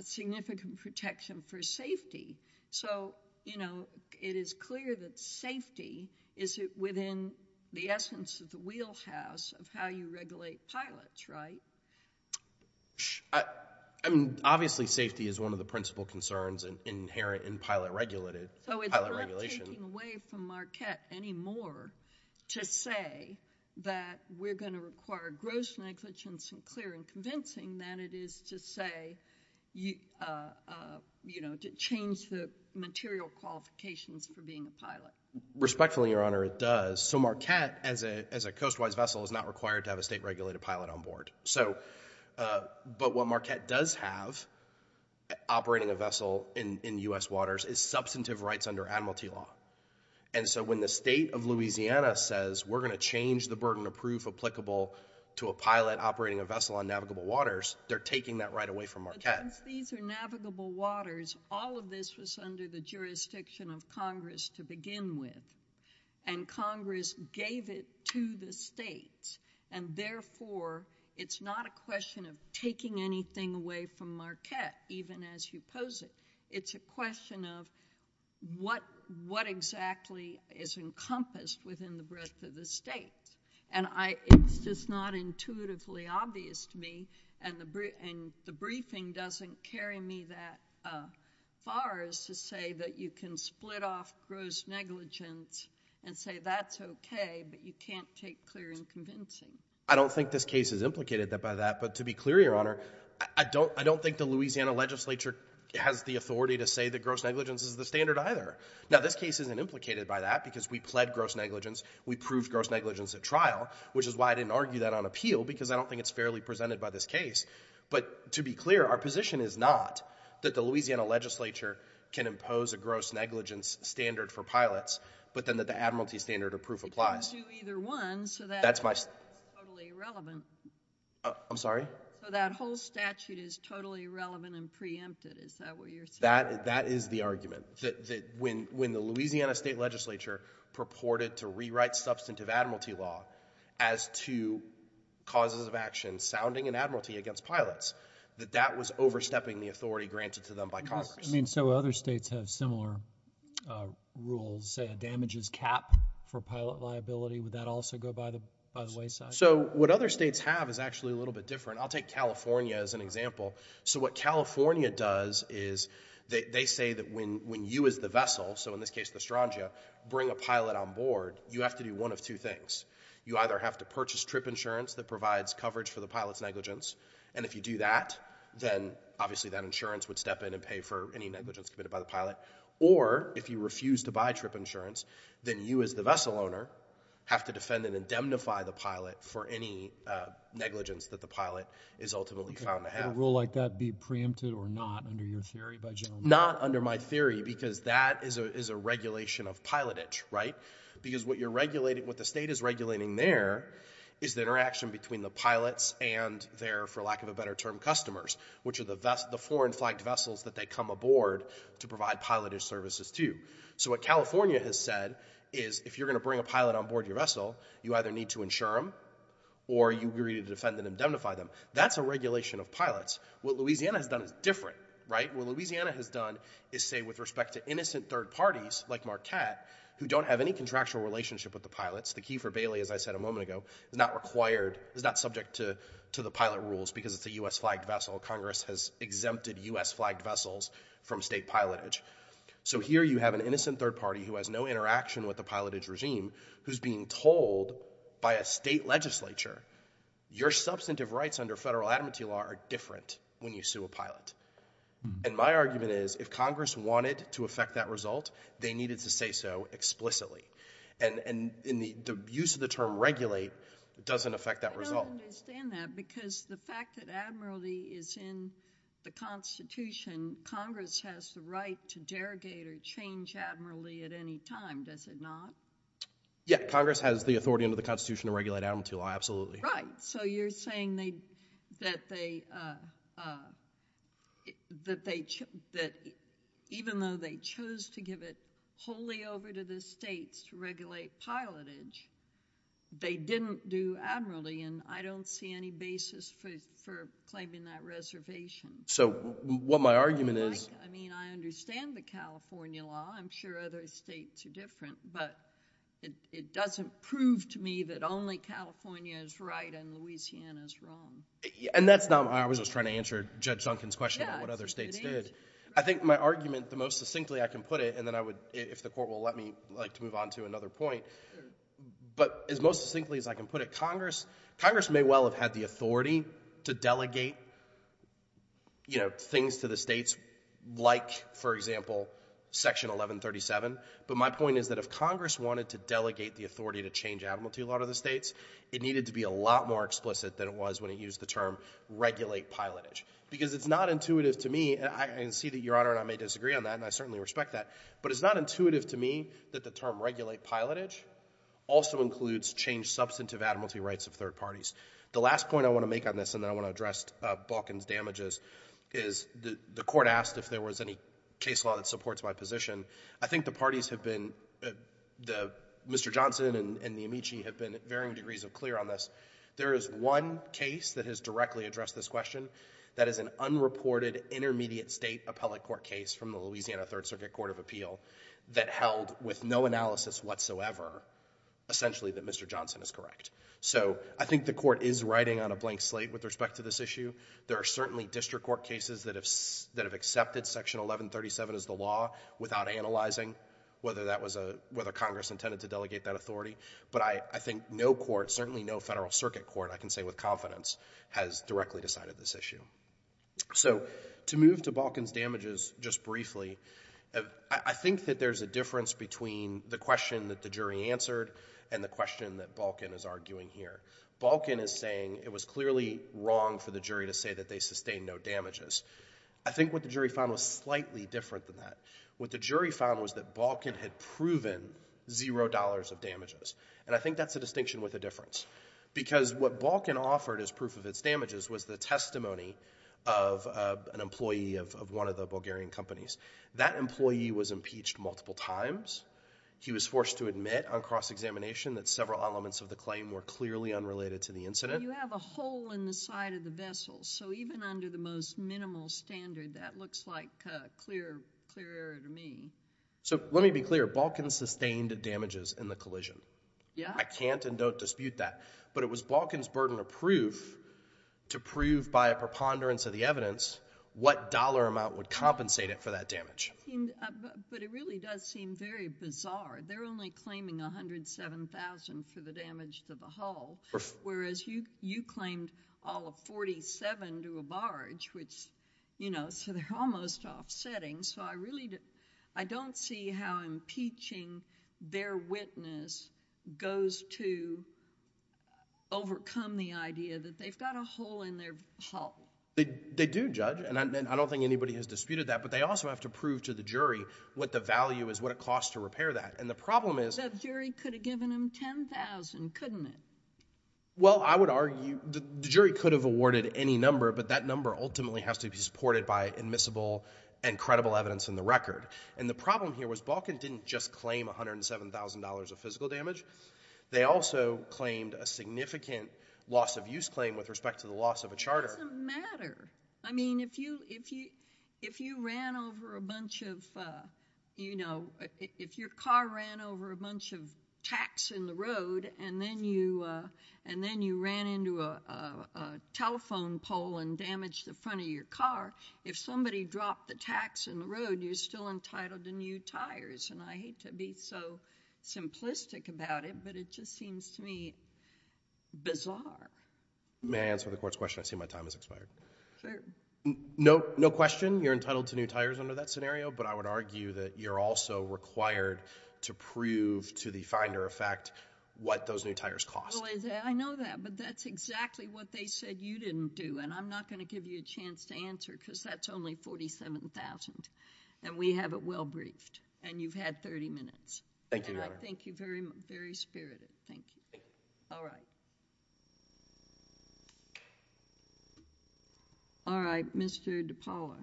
significant protection for safety. So, you know, it is clear that safety is within the essence of the wheelhouse of how you regulate pilots, right? I mean, obviously safety is one of the principal concerns inherent in pilot regulation. So it's not taking away from Marquette any more to say that we're going to require gross negligence and clear and convincing than it is to say, you know, to change the material qualifications for being a pilot. Respectfully, Your Honor, it does. So Marquette, as a coast-wise vessel, is not required to have a state-regulated pilot on board. But what Marquette does have, operating a vessel in U.S. waters, is substantive rights under Adam T. Law. And so when the state of Louisiana says we're going to change the burden of proof applicable to a pilot operating a vessel on navigable waters, they're taking that right away from Marquette. But since these are navigable waters, all of this was under the jurisdiction of Congress to begin with, and Congress gave it to the states, and therefore it's not a question of taking anything away from Marquette, even as you pose it. It's a question of what exactly is encompassed within the breadth of the states. And it's just not intuitively obvious to me, and the briefing doesn't carry me that far is to say that you can split off gross negligence and say that's okay, but you can't take clear and convincing. I don't think this case is implicated by that, but to be clear, Your Honor, I don't think the Louisiana legislature has the authority to say that gross negligence is the standard either. Now, this case isn't implicated by that because we pled gross negligence, we proved gross negligence at trial, which is why I didn't argue that on appeal, because I don't think it's fairly presented by this case. But to be clear, our position is not that the Louisiana legislature can impose a gross negligence standard for pilots, but then that the admiralty standard of proof applies. You can't do either one, so that's totally irrelevant. I'm sorry? So that whole statute is totally irrelevant and preempted, is that what you're saying? That is the argument. When the Louisiana state legislature purported to rewrite substantive admiralty law as to causes of action sounding in admiralty against pilots, that that was overstepping the authority granted to them by Congress. I mean, so other states have similar rules, say a damages cap for pilot liability, would that also go by the wayside? So what other states have is actually a little bit different. I'll take California as an example. So what California does is, they say that when you as the vessel, so in this case the Astrangia, bring a pilot on board, you have to do one of two things. You either have to purchase trip insurance that provides coverage for the pilot's negligence, and if you do that, then obviously that insurance would step in and pay for any negligence committed by the pilot, or if you refuse to buy trip insurance, then you as the vessel owner have to defend and indemnify the pilot for any negligence that the pilot is ultimately found to have. Could a rule like that be preempted or not under your theory, by gentlemen? Not under my theory, because that is a regulation of pilotage, right? Because what the state is regulating there is the interaction between the pilots and their, for lack of a better term, customers, which are the foreign flagged vessels that they come aboard to provide pilotage services to. So what California has said is, if you're going to bring a pilot on board your vessel, you either need to insure them, or you need to defend and indemnify them. That's a regulation of pilots. What Louisiana has done is different, right? What Louisiana has done is say, with respect to innocent third parties, like Marquette, who don't have any contractual relationship with the pilots, the key for Bailey, as I said a moment ago, is not required, is not subject to the pilot rules, because it's a U.S. flagged vessel. Congress has exempted U.S. flagged vessels from state pilotage. So here you have an innocent third party who has no interaction with the pilotage regime who's being told by a state legislature, your substantive rights under federal adamantee law are different when you sue a pilot. And my argument is, if Congress wanted to affect that result, they needed to say so explicitly. And the use of the term regulate doesn't affect that result. I don't understand that, because the fact that admiralty is in the Constitution, Congress has the right to derogate or change admiralty at any time, does it not? Yeah, Congress has the authority under the Constitution to regulate adamantee law, absolutely. Right, so you're saying that they... that even though they chose to give it wholly over to the states to regulate pilotage, they didn't do admiralty, and I don't see any basis for claiming that reservation. So what my argument is... I mean, I understand the California law. I'm sure other states are different, but it doesn't prove to me that only California is right and Louisiana's wrong. And that's not... I was just trying to answer Judge Duncan's question about what other states did. I think my argument, the most succinctly I can put it, and then I would, if the court will let me, like to move on to another point, but as most succinctly as I can put it, Congress may well have had the authority to delegate, you know, things to the states, like, for example, Section 1137, but my point is that if Congress wanted to delegate the authority to change admiralty law to the states, it needed to be a lot more explicit than it was when it used the term regulate pilotage. Because it's not intuitive to me, and I can see that Your Honor and I may disagree on that, and I certainly respect that, but it's not intuitive to me that the term regulate pilotage also includes changed substantive admiralty rights of third parties. The last point I want to make on this, and then I want to address Balkan's damages, is the court asked if there was any case law that supports my position. I think the parties have been... Mr. Johnson and the Amici have been varying degrees of clear on this. There is one case that has directly addressed this question that is an unreported intermediate state appellate court case from the Louisiana Third Circuit Court of Appeal that held with no analysis whatsoever essentially that Mr. Johnson is correct. So I think the court is writing on a blank slate with respect to this issue. There are certainly district court cases that have accepted Section 1137 as the law without analyzing whether that was a... whether Congress intended to delegate that authority, but I think no court, certainly no federal circuit court, I can say with confidence, has directly decided this issue. So to move to Balkan's damages just briefly, I think that there's a difference between the question that the jury answered and the question that Balkan is arguing here. Balkan is saying it was clearly wrong for the jury to say that they sustained no damages. I think what the jury found was slightly different than that. What the jury found was that Balkan had proven zero dollars of damages, and I think that's a distinction with a difference, because what Balkan offered as proof of its damages was the testimony of an employee of one of the Bulgarian companies. That employee was impeached multiple times. He was forced to admit on cross-examination that several elements of the claim were clearly unrelated to the incident. You have a hole in the side of the vessel, so even under the most minimal standard, that looks like a clear error to me. So let me be clear. Balkan sustained damages in the collision. Yeah. I can't and don't dispute that, but it was Balkan's burden of proof to prove by a preponderance of the evidence what dollar amount would compensate it for that damage. But it really does seem very bizarre. They're only claiming $107,000 for the damage to the hull, whereas you claimed all of $47,000 to a barge, which, you know, so they're almost offsetting. And so I don't see how impeaching their witness goes to overcome the idea that they've got a hole in their hull. They do, Judge, and I don't think anybody has disputed that, but they also have to prove to the jury what the value is, what it costs to repair that. And the problem is... The jury could have given them $10,000, couldn't it? Well, I would argue... The jury could have awarded any number, but that number ultimately has to be supported by admissible and credible evidence in the record. And the problem here was Balkan didn't just claim $107,000 of physical damage. They also claimed a significant loss-of-use claim with respect to the loss of a charter. It doesn't matter. I mean, if you ran over a bunch of, you know... If your car ran over a bunch of tacks in the road and then you ran into a telephone pole and damaged the front of your car, if somebody dropped the tacks in the road, you're still entitled to new tires. And I hate to be so simplistic about it, but it just seems to me bizarre. May I answer the Court's question? I see my time has expired. Sure. No question you're entitled to new tires under that scenario, but I would argue that you're also required to prove to the finder of fact what those new tires cost. Well, I know that, but that's exactly what they said you didn't do, and I'm not going to give you a chance to answer because that's only $47,000, and we have it well briefed. And you've had 30 minutes. Thank you, Your Honor. And I thank you very much. Very spirited. Thank you. All right. All right, Mr. DePaola.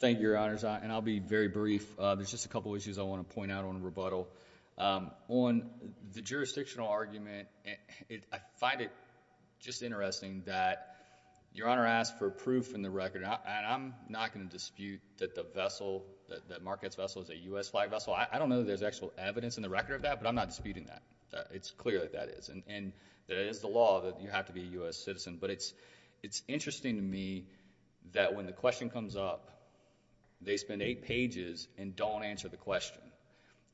Thank you, Your Honors, and I'll be very brief. There's just a couple of issues I want to point out on rebuttal. On the jurisdictional argument, I find it just interesting that Your Honor asked for proof in the record, and I'm not going to dispute that Marquette's vessel is a U.S. flag vessel. I don't know that there's actual evidence in the record of that, but I'm not disputing that. It's clear that that is, and it is the law that you have to be a U.S. citizen. But it's interesting to me that when the question comes up, they spend eight pages and don't answer the question.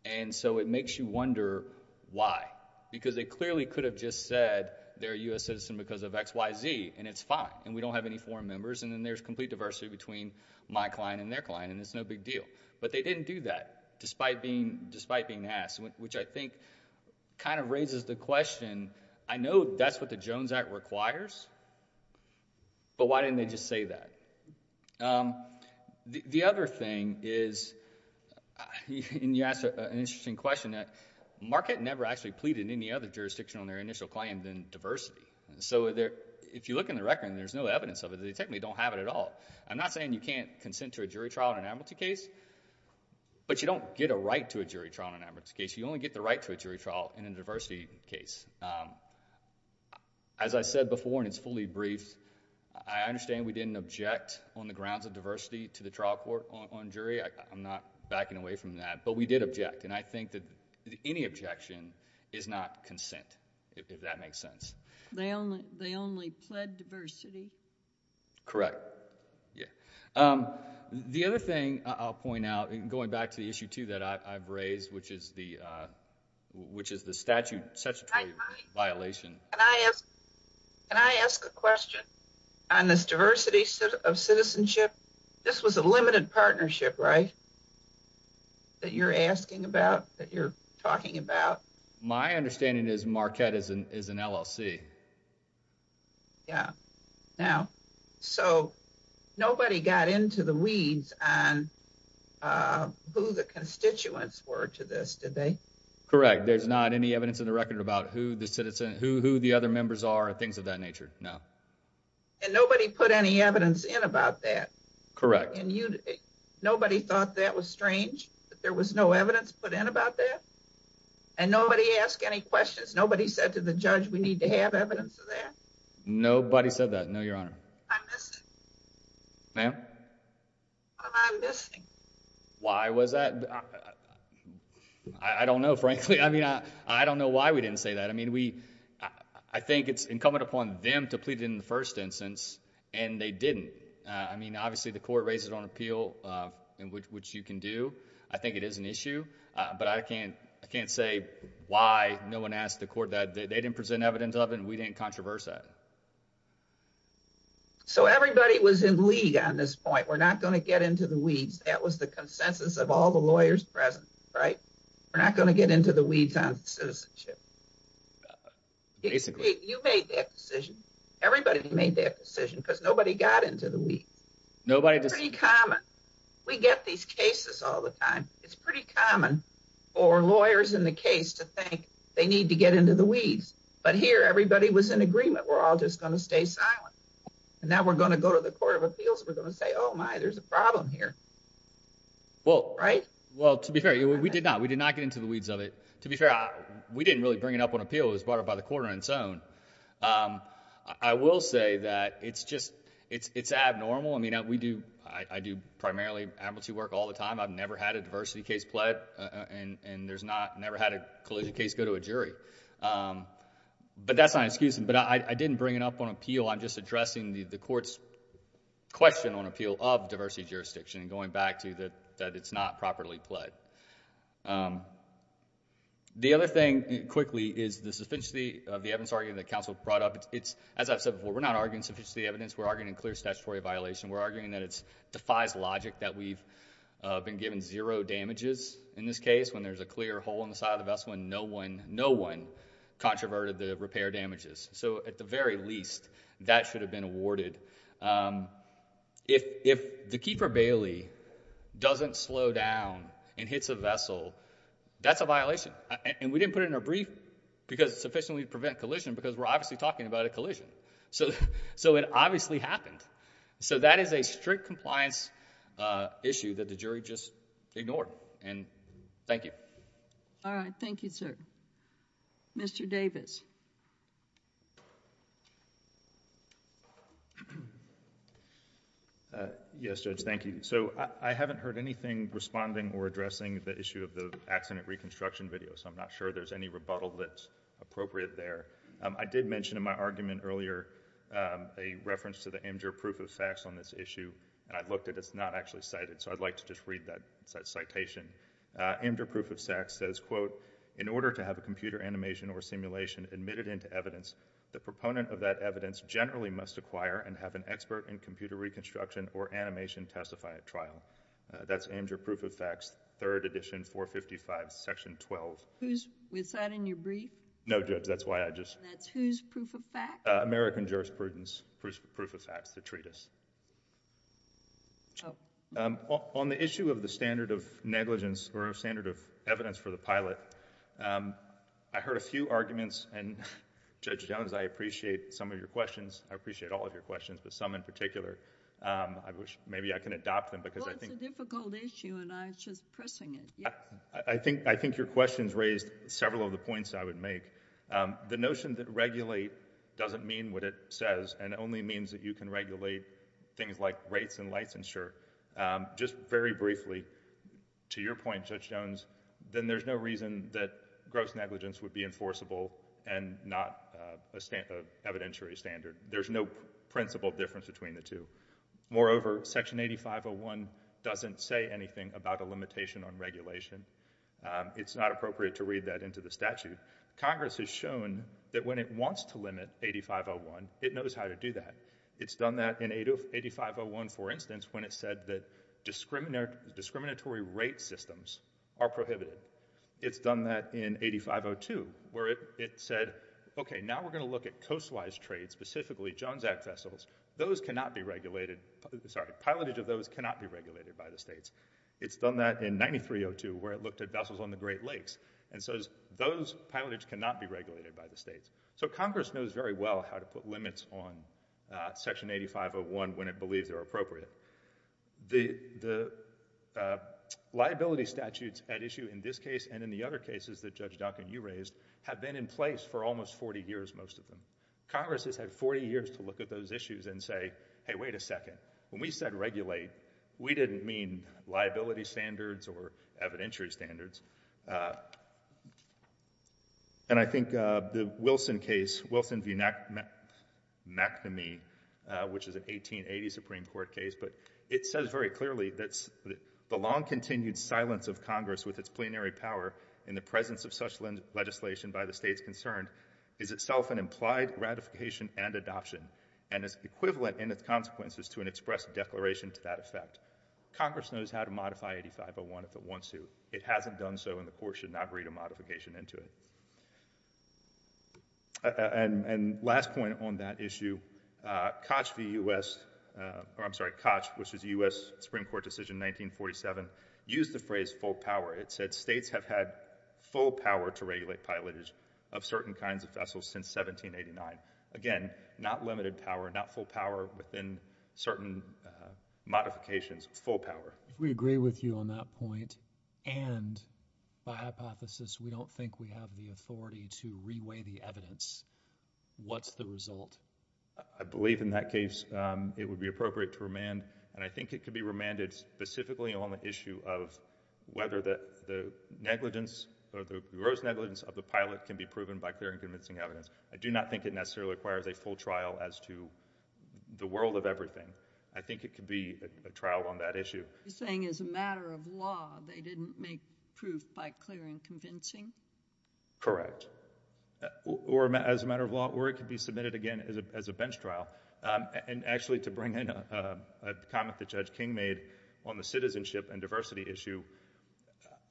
And so it makes you wonder why, because they clearly could have just said they're a U.S. citizen because of XYZ, and it's fine, and we don't have any foreign members, and then there's complete diversity between my client and their client, and it's no big deal. But they didn't do that, despite being asked, which I think kind of raises the question, I know that's what the Jones Act requires, but why didn't they just say that? The other thing is, and you asked an interesting question, that Marquette never actually pleaded in any other jurisdiction on their initial claim than diversity. So if you look in the record and there's no evidence of it, they technically don't have it at all. I'm not saying you can't consent to a jury trial in an amnesty case, but you don't get a right to a jury trial in an amnesty case. You only get the right to a jury trial in a diversity case. As I said before, and it's fully briefed, I understand we didn't object on the grounds of diversity to the trial court on jury. I'm not backing away from that, but we did object, and I think that any objection is not consent, if that makes sense. They only pled diversity? Correct. The other thing I'll point out, going back to the issue, too, that I've raised, which is the statutory violation. Can I ask a question on this diversity of citizenship? This was a limited partnership, right, that you're asking about, that you're talking about? My understanding is Marquette is an LLC. Yeah. Now, so nobody got into the weeds on who the constituents were to this, did they? Correct. There's not any evidence in the record about who the other members are or things of that nature, no. And nobody put any evidence in about that? Correct. And nobody thought that was strange, that there was no evidence put in about that? And nobody ask any questions? Nobody said to the judge, we need to have evidence of that? Nobody said that, no, Your Honor. I miss it. Ma'am? I'm missing. Why was that? I don't know, frankly. I mean, I don't know why we didn't say that. I mean, I think it's incumbent upon them to plead in the first instance, and they didn't. I mean, obviously, the court raised it on appeal, which you can do. I think it is an issue. But I can't say why no one asked the court that. They didn't present evidence of it, and we didn't controversy that. So everybody was in league on this point. We're not going to get into the weeds. That was the consensus of all the lawyers present, right? We're not going to get into the weeds on citizenship. Basically. You made that decision. Everybody made that decision, because nobody got into the weeds. It's pretty common. We get these cases all the time. It's pretty common for lawyers in the case to think they need to get into the weeds. But here, everybody was in agreement. We're all just going to stay silent. And now we're going to go to the court of appeals. We're going to say, oh, my, there's a problem here. Right? Well, to be fair, we did not. We did not get into the weeds of it. To be fair, we didn't really bring it up on appeal. It was brought up by the court on its own. I will say that it's just abnormal. I mean, I do primarily amnesty work all the time. I've never had a diversity case pled, and never had a collision case go to a jury. But that's not an excuse. But I didn't bring it up on appeal. I'm just addressing the court's question on appeal of diversity jurisdiction, and going back to that it's not properly pled. The other thing, quickly, is the sufficiency of the evidence argument that counsel brought up. As I've said before, we're not arguing sufficiency of the evidence. We're arguing a clear statutory violation. We're arguing that it defies logic that we've been given zero damages in this case. When there's a clear hole in the side of the vessel, no one controverted the repair damages. So, at the very least, that should have been awarded. If the Keeper Bailey doesn't slow down and hits a vessel, that's a violation. And we didn't put it in our brief because it's sufficiently to prevent collision, because we're obviously talking about a collision. So it obviously happened. So that is a strict compliance issue that the jury just ignored. And thank you. All right. Thank you, sir. Mr. Davis. Yes, Judge, thank you. So I haven't heard anything responding or addressing the issue of the accident reconstruction video, so I'm not sure there's any rebuttal that's appropriate there. I did mention in my argument earlier a reference to the Imgur proof of sex on this issue, and I looked at it. It's not actually cited, so I'd like to just read that citation. Imgur proof of sex says, quote, in order to have a computer animation or simulation admitted into evidence, the proponent of that evidence generally must acquire and have an expert in computer reconstruction or animation testify at trial. That's Imgur proof of sex, third edition, 455, section 12. Was that in your brief? No, Judge, that's why I just... That's whose proof of fax? American Jurisprudence proof of fax, the treatise. Oh. On the issue of the standard of negligence or standard of evidence for the pilot, I heard a few arguments, and Judge Jones, I appreciate some of your questions. I appreciate all of your questions, but some in particular. Maybe I can adopt them because I think... Well, it's a difficult issue, and I was just pressing it. I think your questions raised several of the points I would make. The notion that regulate doesn't mean what it says and only means that you can regulate things like rates and licensure. Just very briefly, to your point, Judge Jones, then there's no reason that gross negligence would be enforceable and not an evidentiary standard. There's no principle difference between the two. Moreover, Section 8501 doesn't say anything about a limitation on regulation. It's not appropriate to read that into the statute. Congress has shown that when it wants to limit 8501, it knows how to do that. It's done that in 8501, for instance, when it said that discriminatory rate systems are prohibited. It's done that in 8502 where it said, okay, now we're going to look at coast-wise trade, specifically Jones Act vessels. Those cannot be regulated. Sorry, pilotage of those cannot be regulated by the states. It's done that in 9302 where it looked at vessels on the Great Lakes and says those pilotage cannot be regulated by the states. So Congress knows very well how to put limits on Section 8501 when it believes they're appropriate. The liability statutes at issue in this case and in the other cases that Judge Duncan, you raised, have been in place for almost 40 years, most of them. Congress has had 40 years to look at those issues and say, hey, wait a second, when we said regulate, we didn't mean liability standards or evidentiary standards. And I think the Wilson case, Wilson v. McNamee, which is an 1880 Supreme Court case, but it says very clearly that the long-continued silence of Congress with its plenary power in the presence of such legislation by the states concerned is itself an implied gratification and adoption and is equivalent in its consequences to an express declaration to that effect. Congress knows how to modify 8501 if it wants to. It hasn't done so and the Court should not read a modification into it. And last point on that issue, Koch v. U.S. or I'm sorry, Koch, which was a U.S. Supreme Court decision in 1947, used the phrase full power. It said states have had full power to regulate pilotage of certain kinds of vessels since 1789. Again, not limited power, not full power within certain modifications, full power. If we agree with you on that point and by hypothesis we don't think we have the authority to reweigh the evidence, what's the result? I believe in that case it would be appropriate to remand and I think it could be remanded specifically on the issue of whether the negligence or the gross negligence of the pilot can be proven by clear and convincing evidence. I do not think it necessarily requires a full trial as to the world of everything. I think it could be a trial on that issue. You're saying as a matter of law they didn't make proof by clear and convincing? Correct. Or as a matter of law, or it could be submitted again as a bench trial. And actually to bring in a comment that Judge King made on the citizenship and diversity issue,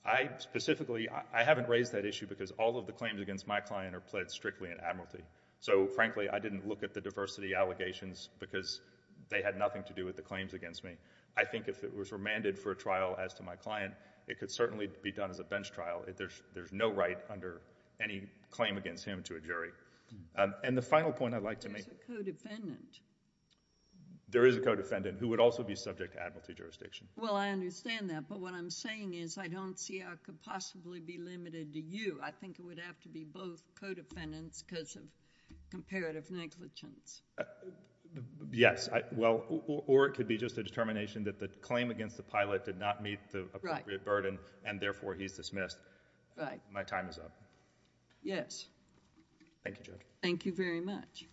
I specifically, I haven't raised that issue because all of the claims against my client are pled strictly in admiralty. So frankly, I didn't look at the diversity allegations because they had nothing to do with the claims against me. I think if it was remanded for a trial as to my client, it could certainly be done as a bench trial. There's no right under any claim against him to a jury. And the final point I'd like to make... There's a co-defendant. There is a co-defendant who would also be subject to admiralty jurisdiction. Well, I understand that, but what I'm saying is I don't see how it could possibly be limited to you. I think it would have to be both co-defendants because of comparative negligence. Yes. Well, or it could be just a determination that the claim against the pilot did not meet the appropriate burden and therefore he's dismissed. My time is up. Yes. Thank you, Judge. Thank you very much.